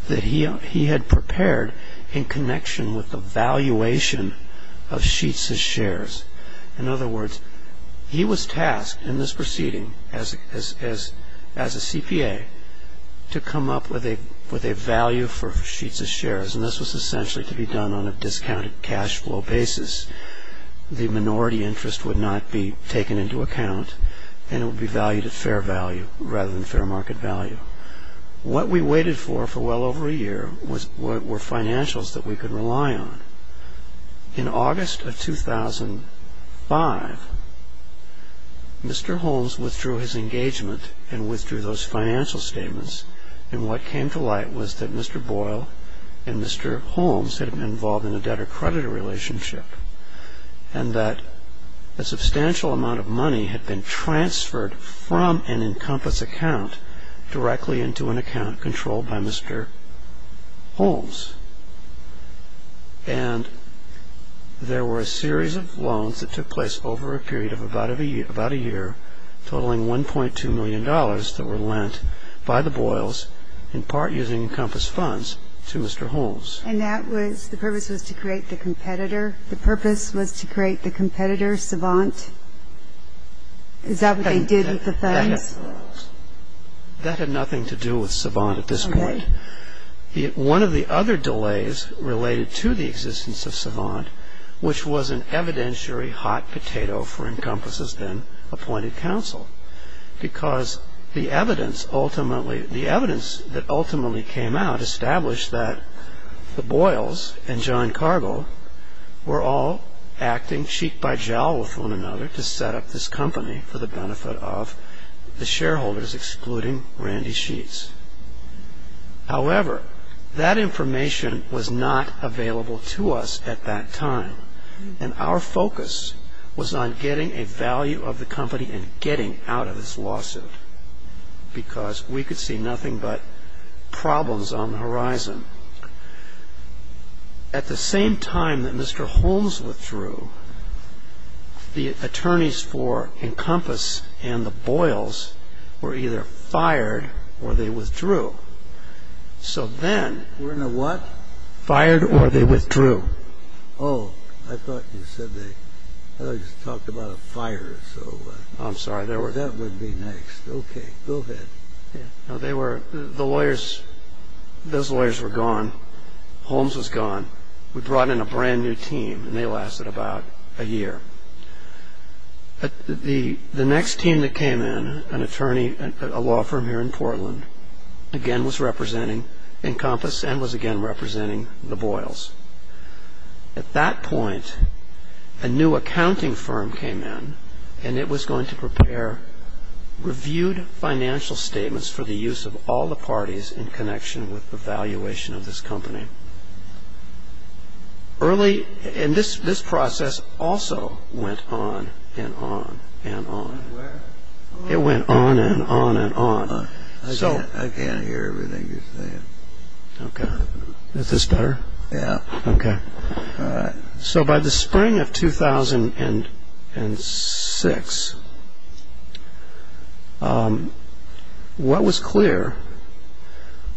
that he had prepared in connection with the valuation of Sheets's shares. In other words, he was tasked in this proceeding as a CPA to come up with a value for Sheets's shares, and this was essentially to be done on a discounted cash flow basis. The minority interest would not be taken into account, and it would be valued at fair value rather than fair market value. What we waited for for well over a year was what were financials that we could rely on. In August of 2005, Mr. Holmes withdrew his engagement and withdrew those financial statements, and what came to light was that Mr. Boyle and Mr. Holmes had been involved in a debtor-creditor relationship and that a substantial amount of money had been transferred from an Encompass account directly into an account controlled by Mr. Holmes. And there were a series of loans that took place over a period of about a year, totaling $1.2 million that were lent by the Boyles, in part using Encompass funds, to Mr. Holmes. And that was the purpose was to create the competitor? The purpose was to create the competitor, Savant? Is that what they did with the funds? That had nothing to do with Savant at this point. One of the other delays related to the existence of Savant, which was an evidentiary hot potato for Encompass's then-appointed counsel, because the evidence that ultimately came out established that the Boyles and John Cargill were all acting cheek-by-jowl with one another to set up this company for the benefit of the shareholders, excluding Randy Sheets. However, that information was not available to us at that time. And our focus was on getting a value of the company and getting out of this lawsuit. Because we could see nothing but problems on the horizon. At the same time that Mr. Holmes withdrew, the attorneys for Encompass and the Boyles were either fired or they withdrew. So then... Were in a what? Fired or they withdrew. Oh, I thought you said they... I thought you talked about a fire, so... I'm sorry, that would be next. Okay, go ahead. The lawyers, those lawyers were gone. Holmes was gone. We brought in a brand new team, and they lasted about a year. The next team that came in, an attorney at a law firm here in Portland, again was representing Encompass and was again representing the Boyles. At that point, a new accounting firm came in, and it was going to prepare reviewed financial statements for the use of all the parties in connection with the valuation of this company. And this process also went on and on and on. It went on and on and on. I can't hear everything you're saying. Is this better? Yeah. Okay. All right. By the spring of 2006, what was clear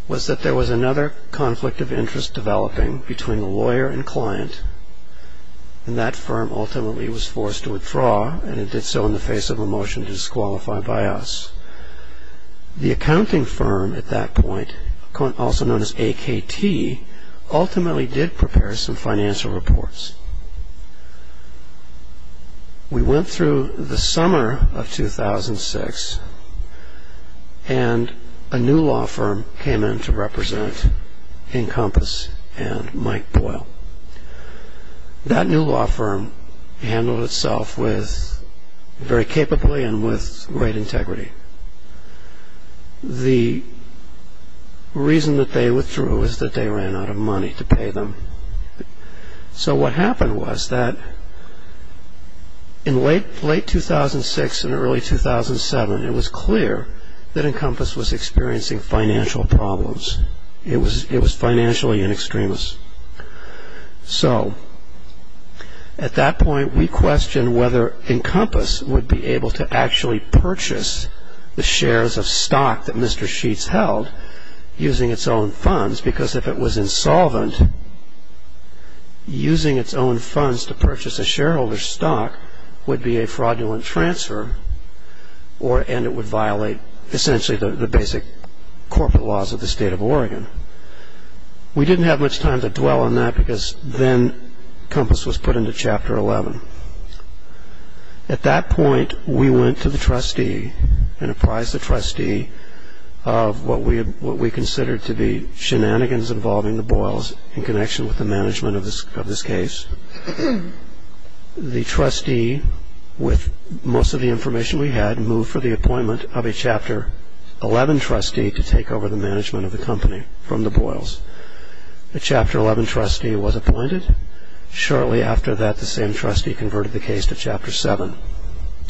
was that there was another conflict of interest developing between the lawyer and client, and that firm ultimately was forced to withdraw, and it did so in the face of a motion to disqualify by us. The accounting firm at that point, also known as AKT, ultimately did prepare some financial reports. We went through the summer of 2006, and a new law firm came in to represent Encompass and Mike Boyle. That new law firm handled itself very capably and with great integrity. The reason that they withdrew was that they ran out of money to pay them. So what happened was that in late 2006 and early 2007, it was clear that Encompass was experiencing financial problems. It was financially an extremist. So at that point, we questioned whether Encompass would be able to actually purchase the shares of stock that Mr. Sheets held using its own funds, because if it was insolvent, using its own funds to purchase a shareholder's stock would be a fraudulent transfer, and it would violate essentially the basic corporate laws of the state of Oregon. We didn't have much time to dwell on that because then Encompass was put into Chapter 11. At that point, we went to the trustee and apprised the trustee of what we considered to be shenanigans involving the Boyles in connection with the management of this case. The trustee, with most of the information we had, moved for the appointment of a Chapter 11 trustee to take over the management of the company from the Boyles. The Chapter 11 trustee was appointed. Shortly after that, the same trustee converted the case to Chapter 7.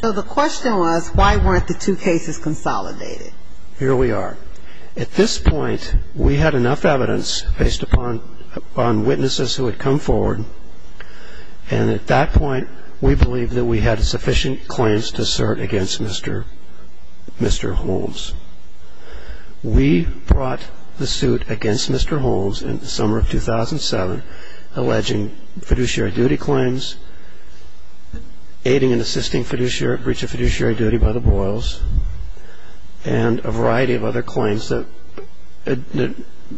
So the question was, why weren't the two cases consolidated? Here we are. At this point, we had enough evidence based upon witnesses who had come forward, and at that point, we believed that we had a sufficient claims to cert against Mr. Holmes. We brought the suit against Mr. Holmes in the summer of 2007 alleging fiduciary duty claims, aiding and assisting breach of fiduciary duty by the Boyles, and a variety of other claims that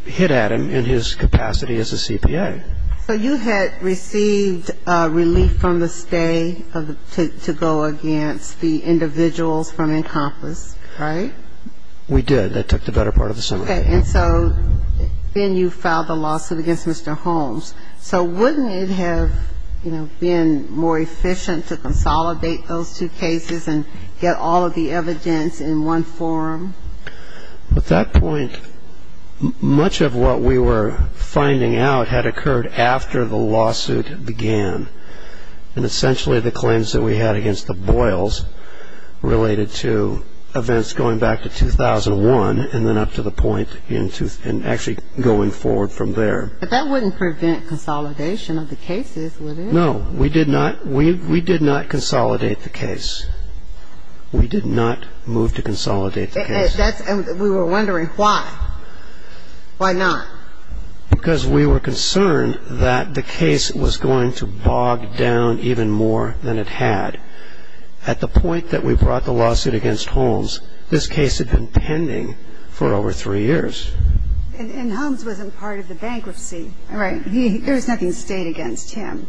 hit at him in his capacity as a CPA. So you had received relief from the state to go against the individual from Encompass, right? We did. That took the better part of the summer. Okay. And so then you filed the lawsuit against Mr. Holmes. So wouldn't it have been more efficient to consolidate those two cases and get all of the evidence in one form? At that point, much of what we were finding out had occurred after the lawsuit began, and essentially the claims that we had against the Boyles related to events going back to 2001 and then up to the point in actually going forward from there. But that wouldn't prevent consolidation of the cases, would it? No. We did not consolidate the case. We did not move to consolidate the case. And we were wondering why. Why not? Because we were concerned that the case was going to bog down even more than it had. At the point that we brought the lawsuit against Holmes, this case had been pending for over three years. And Holmes wasn't part of the bankruptcy, right? There was nothing that stayed against him.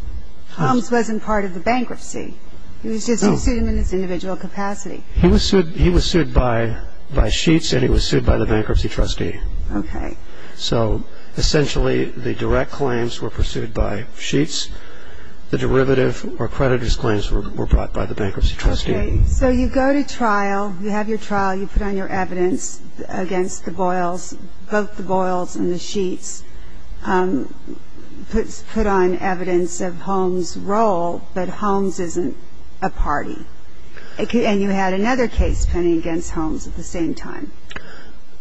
Holmes wasn't part of the bankruptcy. He was just a student in his individual capacity. He was sued by Sheets, and he was sued by the bankruptcy trustee. Okay. So essentially the direct claims were pursued by Sheets. The derivative or creditors' claims were brought by the bankruptcy trustee. Okay. So you go to trial. You have your trial. You put on your evidence against the Boyles, both the Boyles and the Sheets, put on evidence of Holmes' role that Holmes isn't a party. And you had another case pending against Holmes at the same time.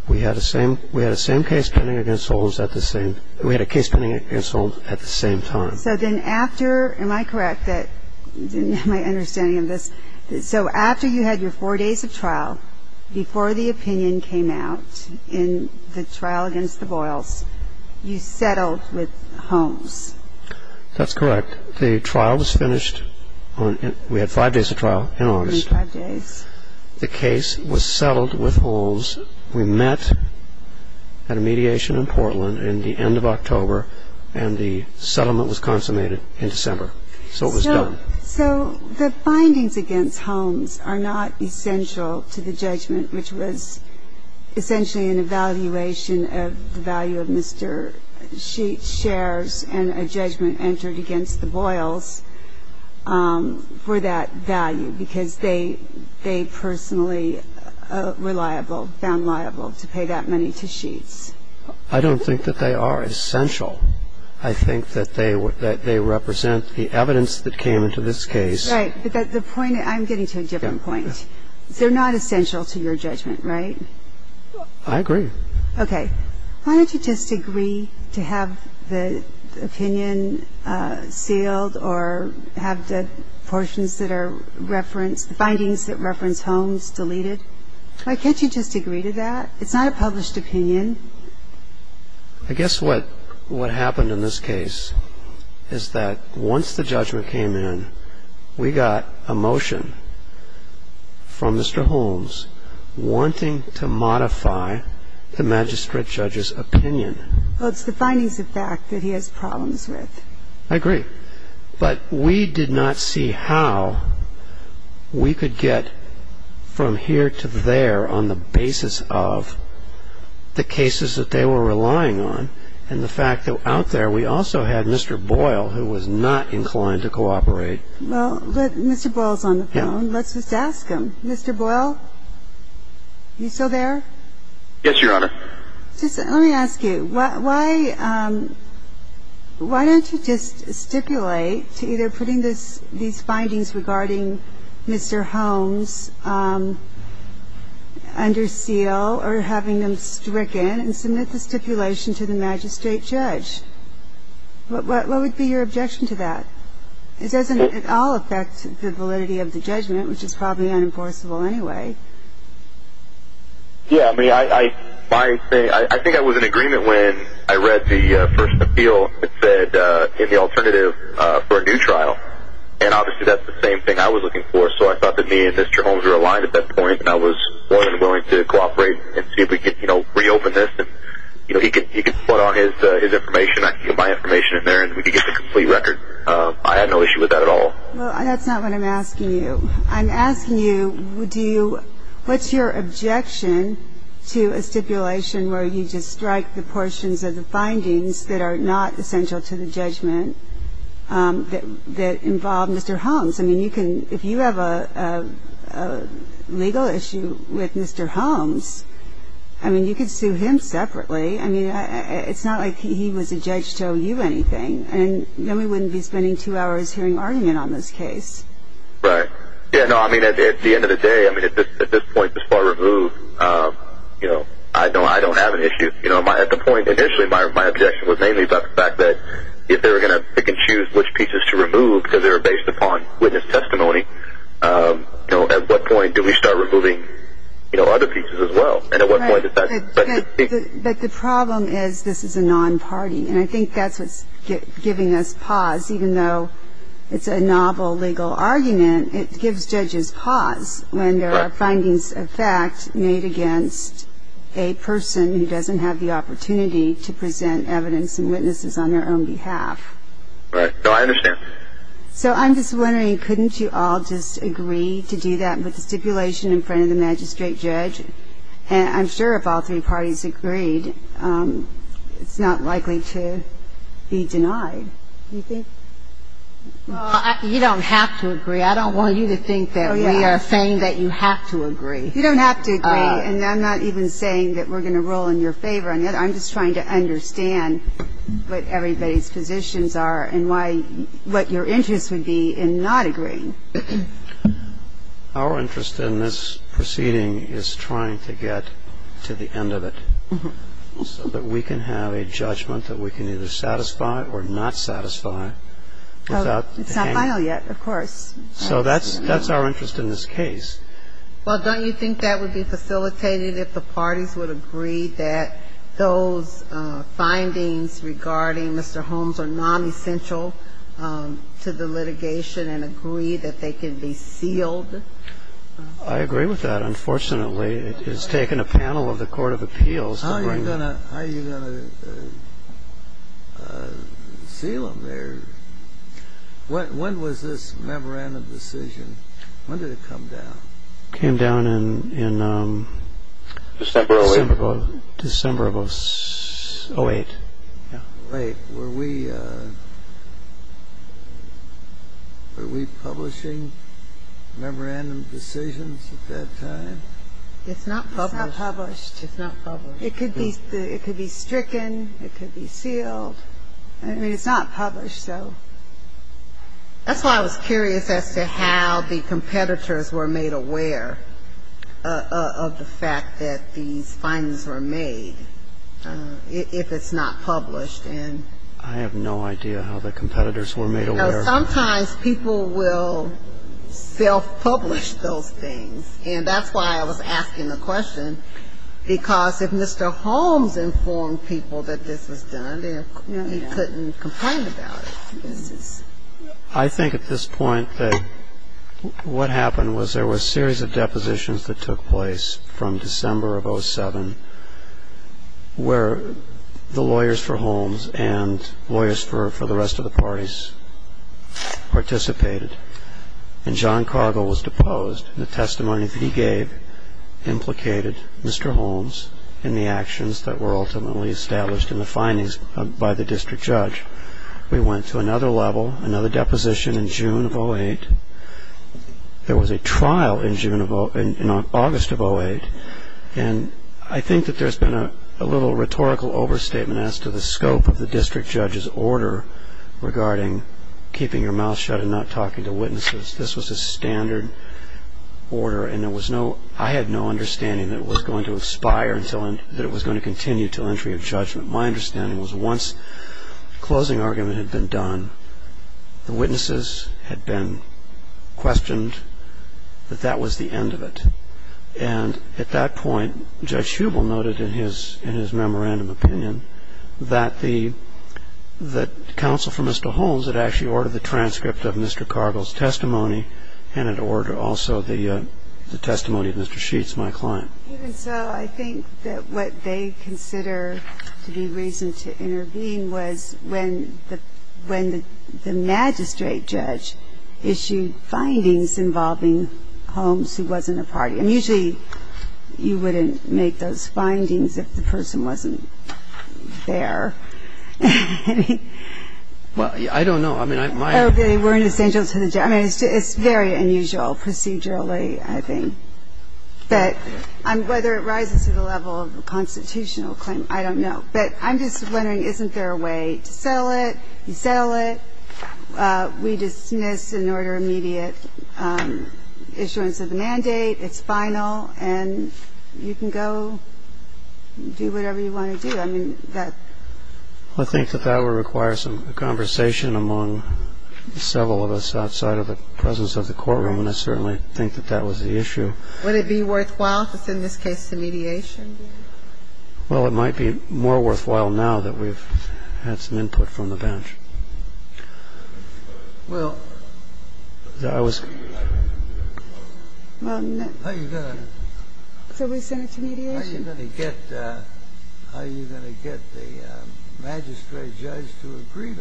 We had a case pending against Holmes at the same time. Am I correct in my understanding of this? So after you had your four days of trial, before the opinion came out in the trial against the Boyles, you settled with Holmes. That's correct. The trial was finished. We had five days of trial in August. Five days. The case was settled with Holmes. We met at a mediation in Portland in the end of October, and the settlement was consummated in December. So it was done. So the findings against Holmes are not essential to the judgment, which was essentially an evaluation of the value of Mr. Sheets' shares and a judgment entered against the Boyles for that value, because they personally found liable to pay that money to Sheets. I don't think that they are essential. I think that they represent the evidence that came into this case. Right. I'm getting to a different point. They're not essential to your judgment, right? I agree. Okay. Why don't you just agree to have the opinion sealed or have the findings that reference Holmes deleted? Why can't you just agree to that? It's not a published opinion. I guess what happened in this case is that once the judgment came in, we got a motion from Mr. Holmes wanting to modify the magistrate judge's opinion. Well, it's defining the fact that he has problems with it. I agree. But we did not see how we could get from here to there on the basis of the cases that they were relying on and the fact that out there we also had Mr. Boyle who was not inclined to cooperate. Well, Mr. Boyle is on the phone. Let's just ask him. Mr. Boyle? Are you still there? Yes, Your Honor. Let me ask you. Why don't you just stipulate to either putting these findings regarding Mr. Holmes under seal or having them stricken and submit the stipulation to the magistrate judge? What would be your objection to that? It doesn't at all affect the validity of the judgment, which is probably unenforceable anyway. Yes. I think I was in agreement when I read the first appeal. It said, get the alternative for a new trial. And obviously that's the same thing I was looking for. So I thought that me and Mr. Holmes were aligned at that point and I was more than willing to cooperate and see if we could reopen this and he could put on his information. I could get my information in there and we could get the complete record. I had no issue with that at all. Well, that's not what I'm asking you. I'm asking you, what's your objection to a stipulation where you just strike the portions of the findings that are not essential to the judgment that involve Mr. Holmes? I mean, if you have a legal issue with Mr. Holmes, I mean, you could sue him separately. I mean, it's not like he was the judge to owe you anything. And then we wouldn't be spending two hours hearing argument on this case. Right. Yeah, no, I mean, at the end of the day, I mean, at this point, this far removed, you know, I don't have an issue. You know, at the point initially my objection was mainly about the fact that if they were going to pick and choose which pieces to remove because they were based upon witness testimony, you know, at what point do we start removing, you know, other pieces as well? And at what point is that? But the problem is this is a non-party, and I think that's what's giving us pause. Even though it's a novel legal argument, it gives judges pause when there are findings of fact made against a person who doesn't have the opportunity to present evidence and witnesses on their own behalf. Right, so I understand. So I'm just wondering, couldn't you all just agree to do that with the stipulation in front of the magistrate judge? And I'm sure if all three parties agreed, it's not likely to be denied. Well, you don't have to agree. I don't want you to think that we are saying that you have to agree. You don't have to agree, and I'm not even saying that we're going to rule in your favor on it. I'm just trying to understand what everybody's positions are and what your interest would be in not agreeing. Our interest in this proceeding is trying to get to the end of it so that we can have a judgment that we can either satisfy or not satisfy. It's not final yet, of course. So that's our interest in this case. Well, don't you think that would be facilitated if the parties would agree that those findings regarding Mr. Holmes are nonessential to the litigation and agree that they can be sealed? I agree with that, unfortunately. It's taken a panel of the Court of Appeals to bring it. How are you going to seal them? When was this memorandum decision? When did it come down? It came down in December of 2008. Right. Were we publishing memorandum decisions at that time? It's not published. It's not published. It could be stricken. It could be sealed. It's not published, though. That's why I was curious as to how the competitors were made aware of the fact that these findings were made, if it's not published. I have no idea how the competitors were made aware. Sometimes people will self-publish those things. And that's why I was asking the question, because if Mr. Holmes informed people that this was done, they couldn't complain about it. I think at this point that what happened was there were a series of depositions that took place from December of 2007, where the lawyers for Holmes and lawyers for the rest of the parties participated. And John Cargill was deposed. The testimony that he gave implicated Mr. Holmes in the actions that were ultimately established in the findings by the district judge. We went to another level, another deposition in June of 2008. There was a trial in August of 2008. And I think that there's been a little rhetorical overstatement as to the scope of the district judge's order regarding keeping your mouth shut and not talking to witnesses. This was a standard order, and I had no understanding that it was going to expire, that it was going to continue until entry of judgment. My understanding was once the closing argument had been done, the witnesses had been questioned that that was the end of it. And at that point, Judge Hubel noted in his memorandum opinion that the counsel for Mr. Holmes had actually ordered the transcript of Mr. Cargill's testimony and had ordered also the testimony of Mr. Sheets, my client. Even so, I think that what they consider the reason to intervene was when the magistrate judge issued findings involving Holmes, who wasn't a party. And usually you wouldn't make those findings if the person wasn't there. Well, I don't know. I mean, it's very unusual procedurally, I think. But whether it rises to the level of a constitutional claim, I don't know. But I'm just wondering, isn't there a way? Sell it, sell it. We dismiss in order immediate issuance of the mandate. It's final. And you can go do whatever you want to do. I mean, I think that that would require some conversation among several of us outside of the presence of the courtroom. And I certainly think that that was the issue. Would it be worthwhile in this case to mediation? Well, it might be more worthwhile now that we've had some input from the bench. Well, I was. Well, how are you going to get the magistrate judge to agree?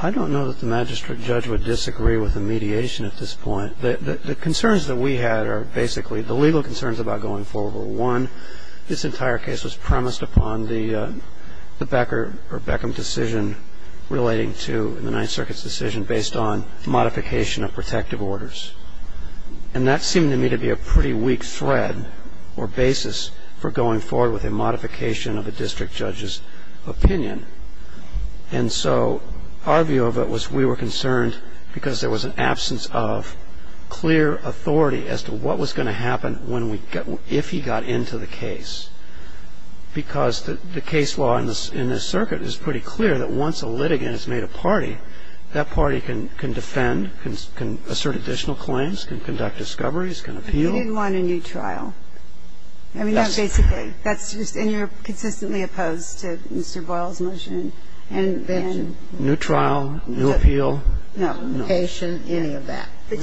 I don't know that the magistrate judge would disagree with the mediation at this point. The concerns that we had are basically the legal concerns about going forward. This entire case was premised upon the Becker or Beckham decision relating to the Ninth Circuit's decision based on modification of protective orders. And that seemed to me to be a pretty weak thread or basis for going forward with a modification of a district judge's opinion. And so our view of it was we were concerned because there was an absence of clear authority as to what was going to happen if he got into the case. Because the case law in this circuit is pretty clear that once a litigant has made a party, that party can defend, can assert additional claims, can conduct discoveries, can appeal. He didn't want a new trial. And you're consistently opposed to Mr. Boyle's motion. New trial, new appeal. No, patient, any of that. We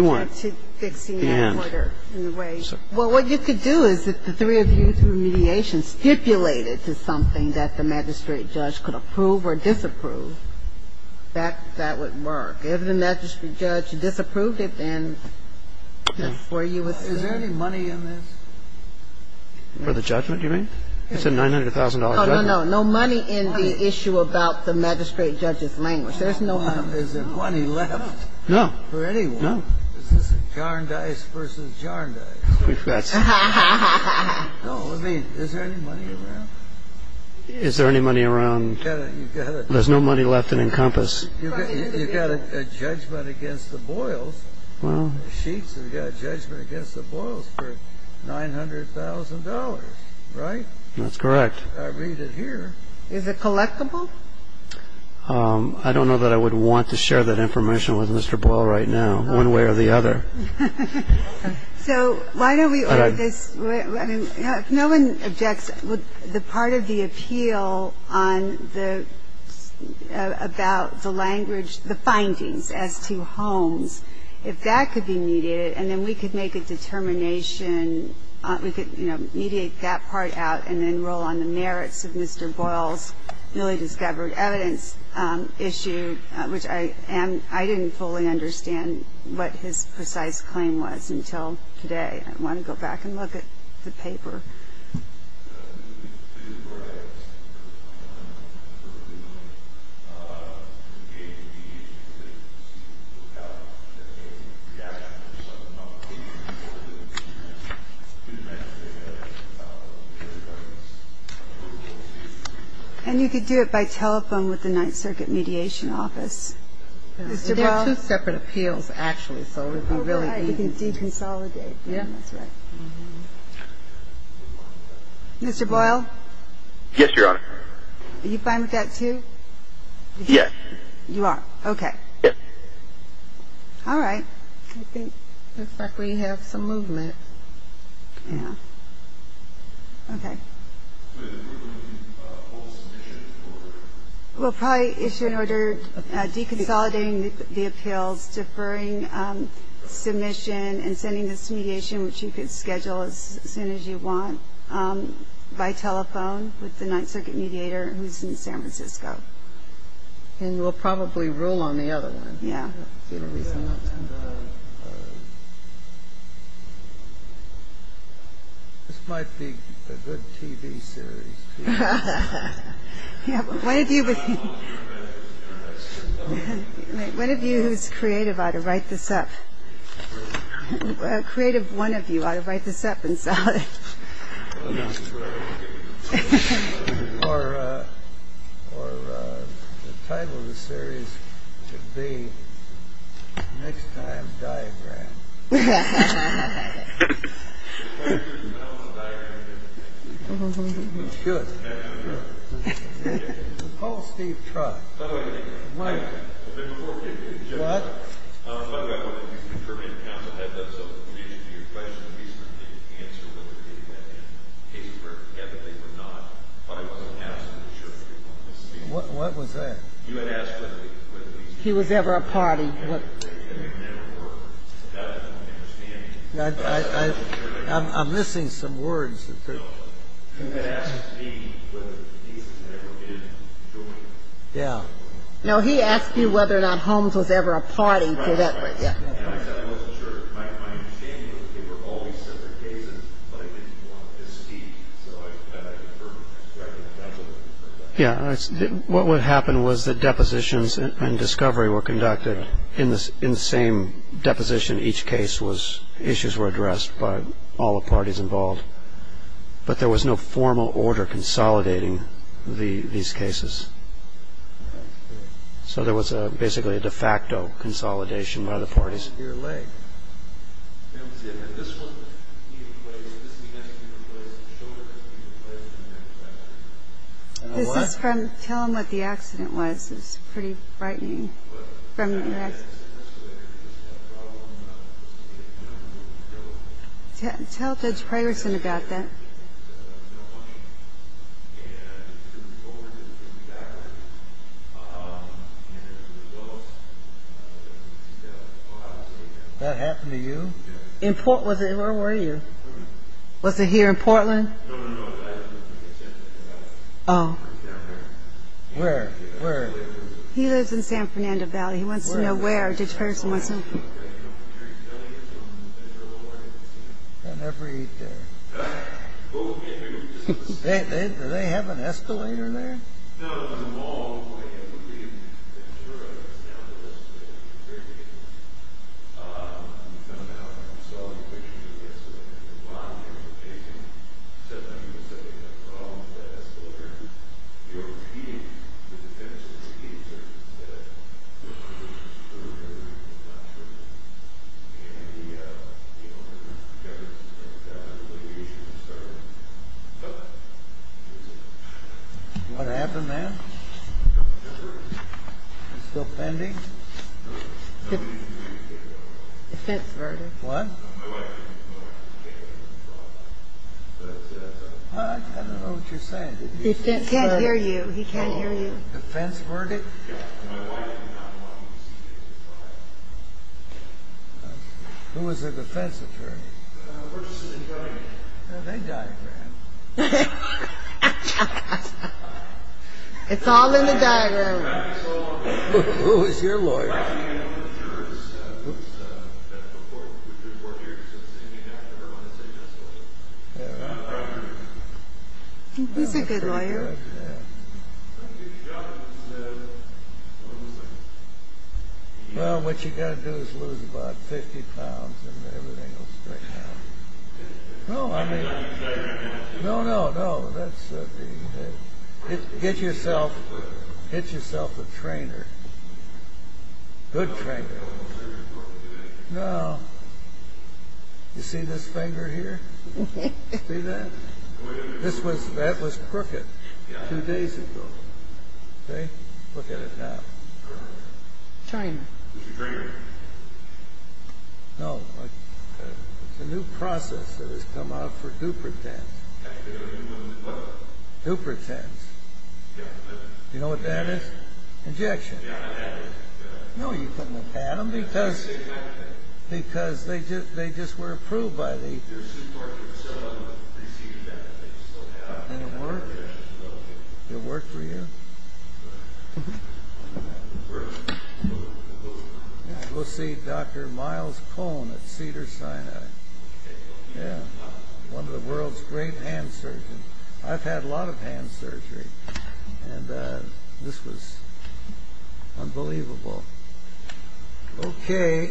weren't. Well, what you could do is if the three of you, through mediation, stipulated to something that the magistrate judge could approve or disapprove, that would work. If the magistrate judge disapproved it, then that's where you would stand. Is there any money in this? For the judgment, you mean? It's a $900,000 judgment. Oh, no, no. No money in the issue about the magistrate judge's language. There's no money. Is there money left? No. For anyone? No. Jar and dice versus jar and dice. No, I mean, is there any money around? Is there any money around? There's no money left to encompass. You've got a judgment against the Boyles. You've got a judgment against the Boyles for $900,000, right? That's correct. I read it here. Is it collectible? I don't know that I would want to share that information with Mr. Boyle right now, one way or the other. So why don't we order this? If no one objects, would the part of the appeal about the language, the findings as to Holmes, if that could be mediated, and then we could make a determination, we could, you know, mediate that part out and then roll on the merits of Mr. Boyle's newly discovered evidence issue, and I didn't fully understand what his precise claim was until today. I want to go back and look at the paper. And you could do it by telephone with the Ninth Circuit Mediation Office. There's two separate appeals, actually, so it would be really easy. You can see consolidated. Yeah. I'm sorry. I'm sorry. I'm sorry. I'm sorry. I'm sorry. I'm sorry. Mr. Boyle? Yes, Your Honor. Are you fine with that, too? Yes. You are? Okay. Yes. All right. I think we have some movement. Yeah. Okay. We'll probably issue an order deconsolidating the appeal, deferring submission, and sending this mediation, which you can schedule as soon as you want, by telephone with the Ninth Circuit Mediator who's in San Francisco. And you will probably rule on the other one. Yeah. This might be a good TV series. Yeah, but one of you who's creative ought to write this up. A creative one of you ought to write this up and sell it. Or the title of the series should be Next Time Diagram. Well, I'm going to give it to you. It's good. Hopefully, it's not. Wait. What? What do you mean by that? What do you mean by deferring the counsel to the Ninth Circuit? Your question would be so that you can answer it in a case where, again, they do not fight for the hassle of the jury. What was that? You ask him. He was never a party. I'm missing some words. No, he asked you whether or not Holmes was ever a party. Yeah. What would happen was the depositions and discovery were conducted in the same deposition. Each case was issues were addressed by all the parties involved. But there was no formal order consolidating these cases. So there was basically a de facto consolidation by the parties. Tell him what the accident was. It's pretty frightening. Tell Judge Frederickson about that. Did that happen to you? Where were you? Was it here in Portland? No, no, no. Oh. Where? Where? He lives in San Fernando Valley. He wants to know where. I just heard from him. Did they have an escalator there? What happened there? Still pending? Defense verdict. What? I don't know what you're saying. He can't hear you. He can't hear you. Defense verdict? Who was the defense attorney? The person that died. No, they died. It's all in the dialogue. Who was your lawyer? Well, what you got to do is lose about 50 pounds and everything. No, I mean. No, no, no. That's. Get yourself. Get yourself a trainer. Good trainer. No. You see this finger here? See that? That was crooked two days ago. See? Look at it now. China. No. The new processor has come out for dupertent. Dupertent. You know what that is? Injection. No, you couldn't have had them because. Because they just were approved by the. They work for you? We'll see. Dr. Miles Cone. It's Peter. China. Yeah. One of the world's great answers. I've had a lot of hand surgery. And this was. Unbelievable. Okay.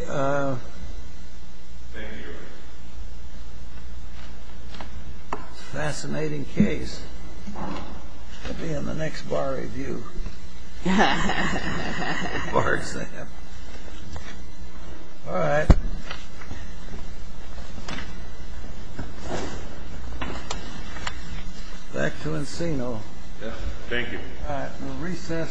Fascinating case. In the next bar review. Water. All right. Back to Encino. Thank you. All right. Recess. Thank you. Thank you. Thank you.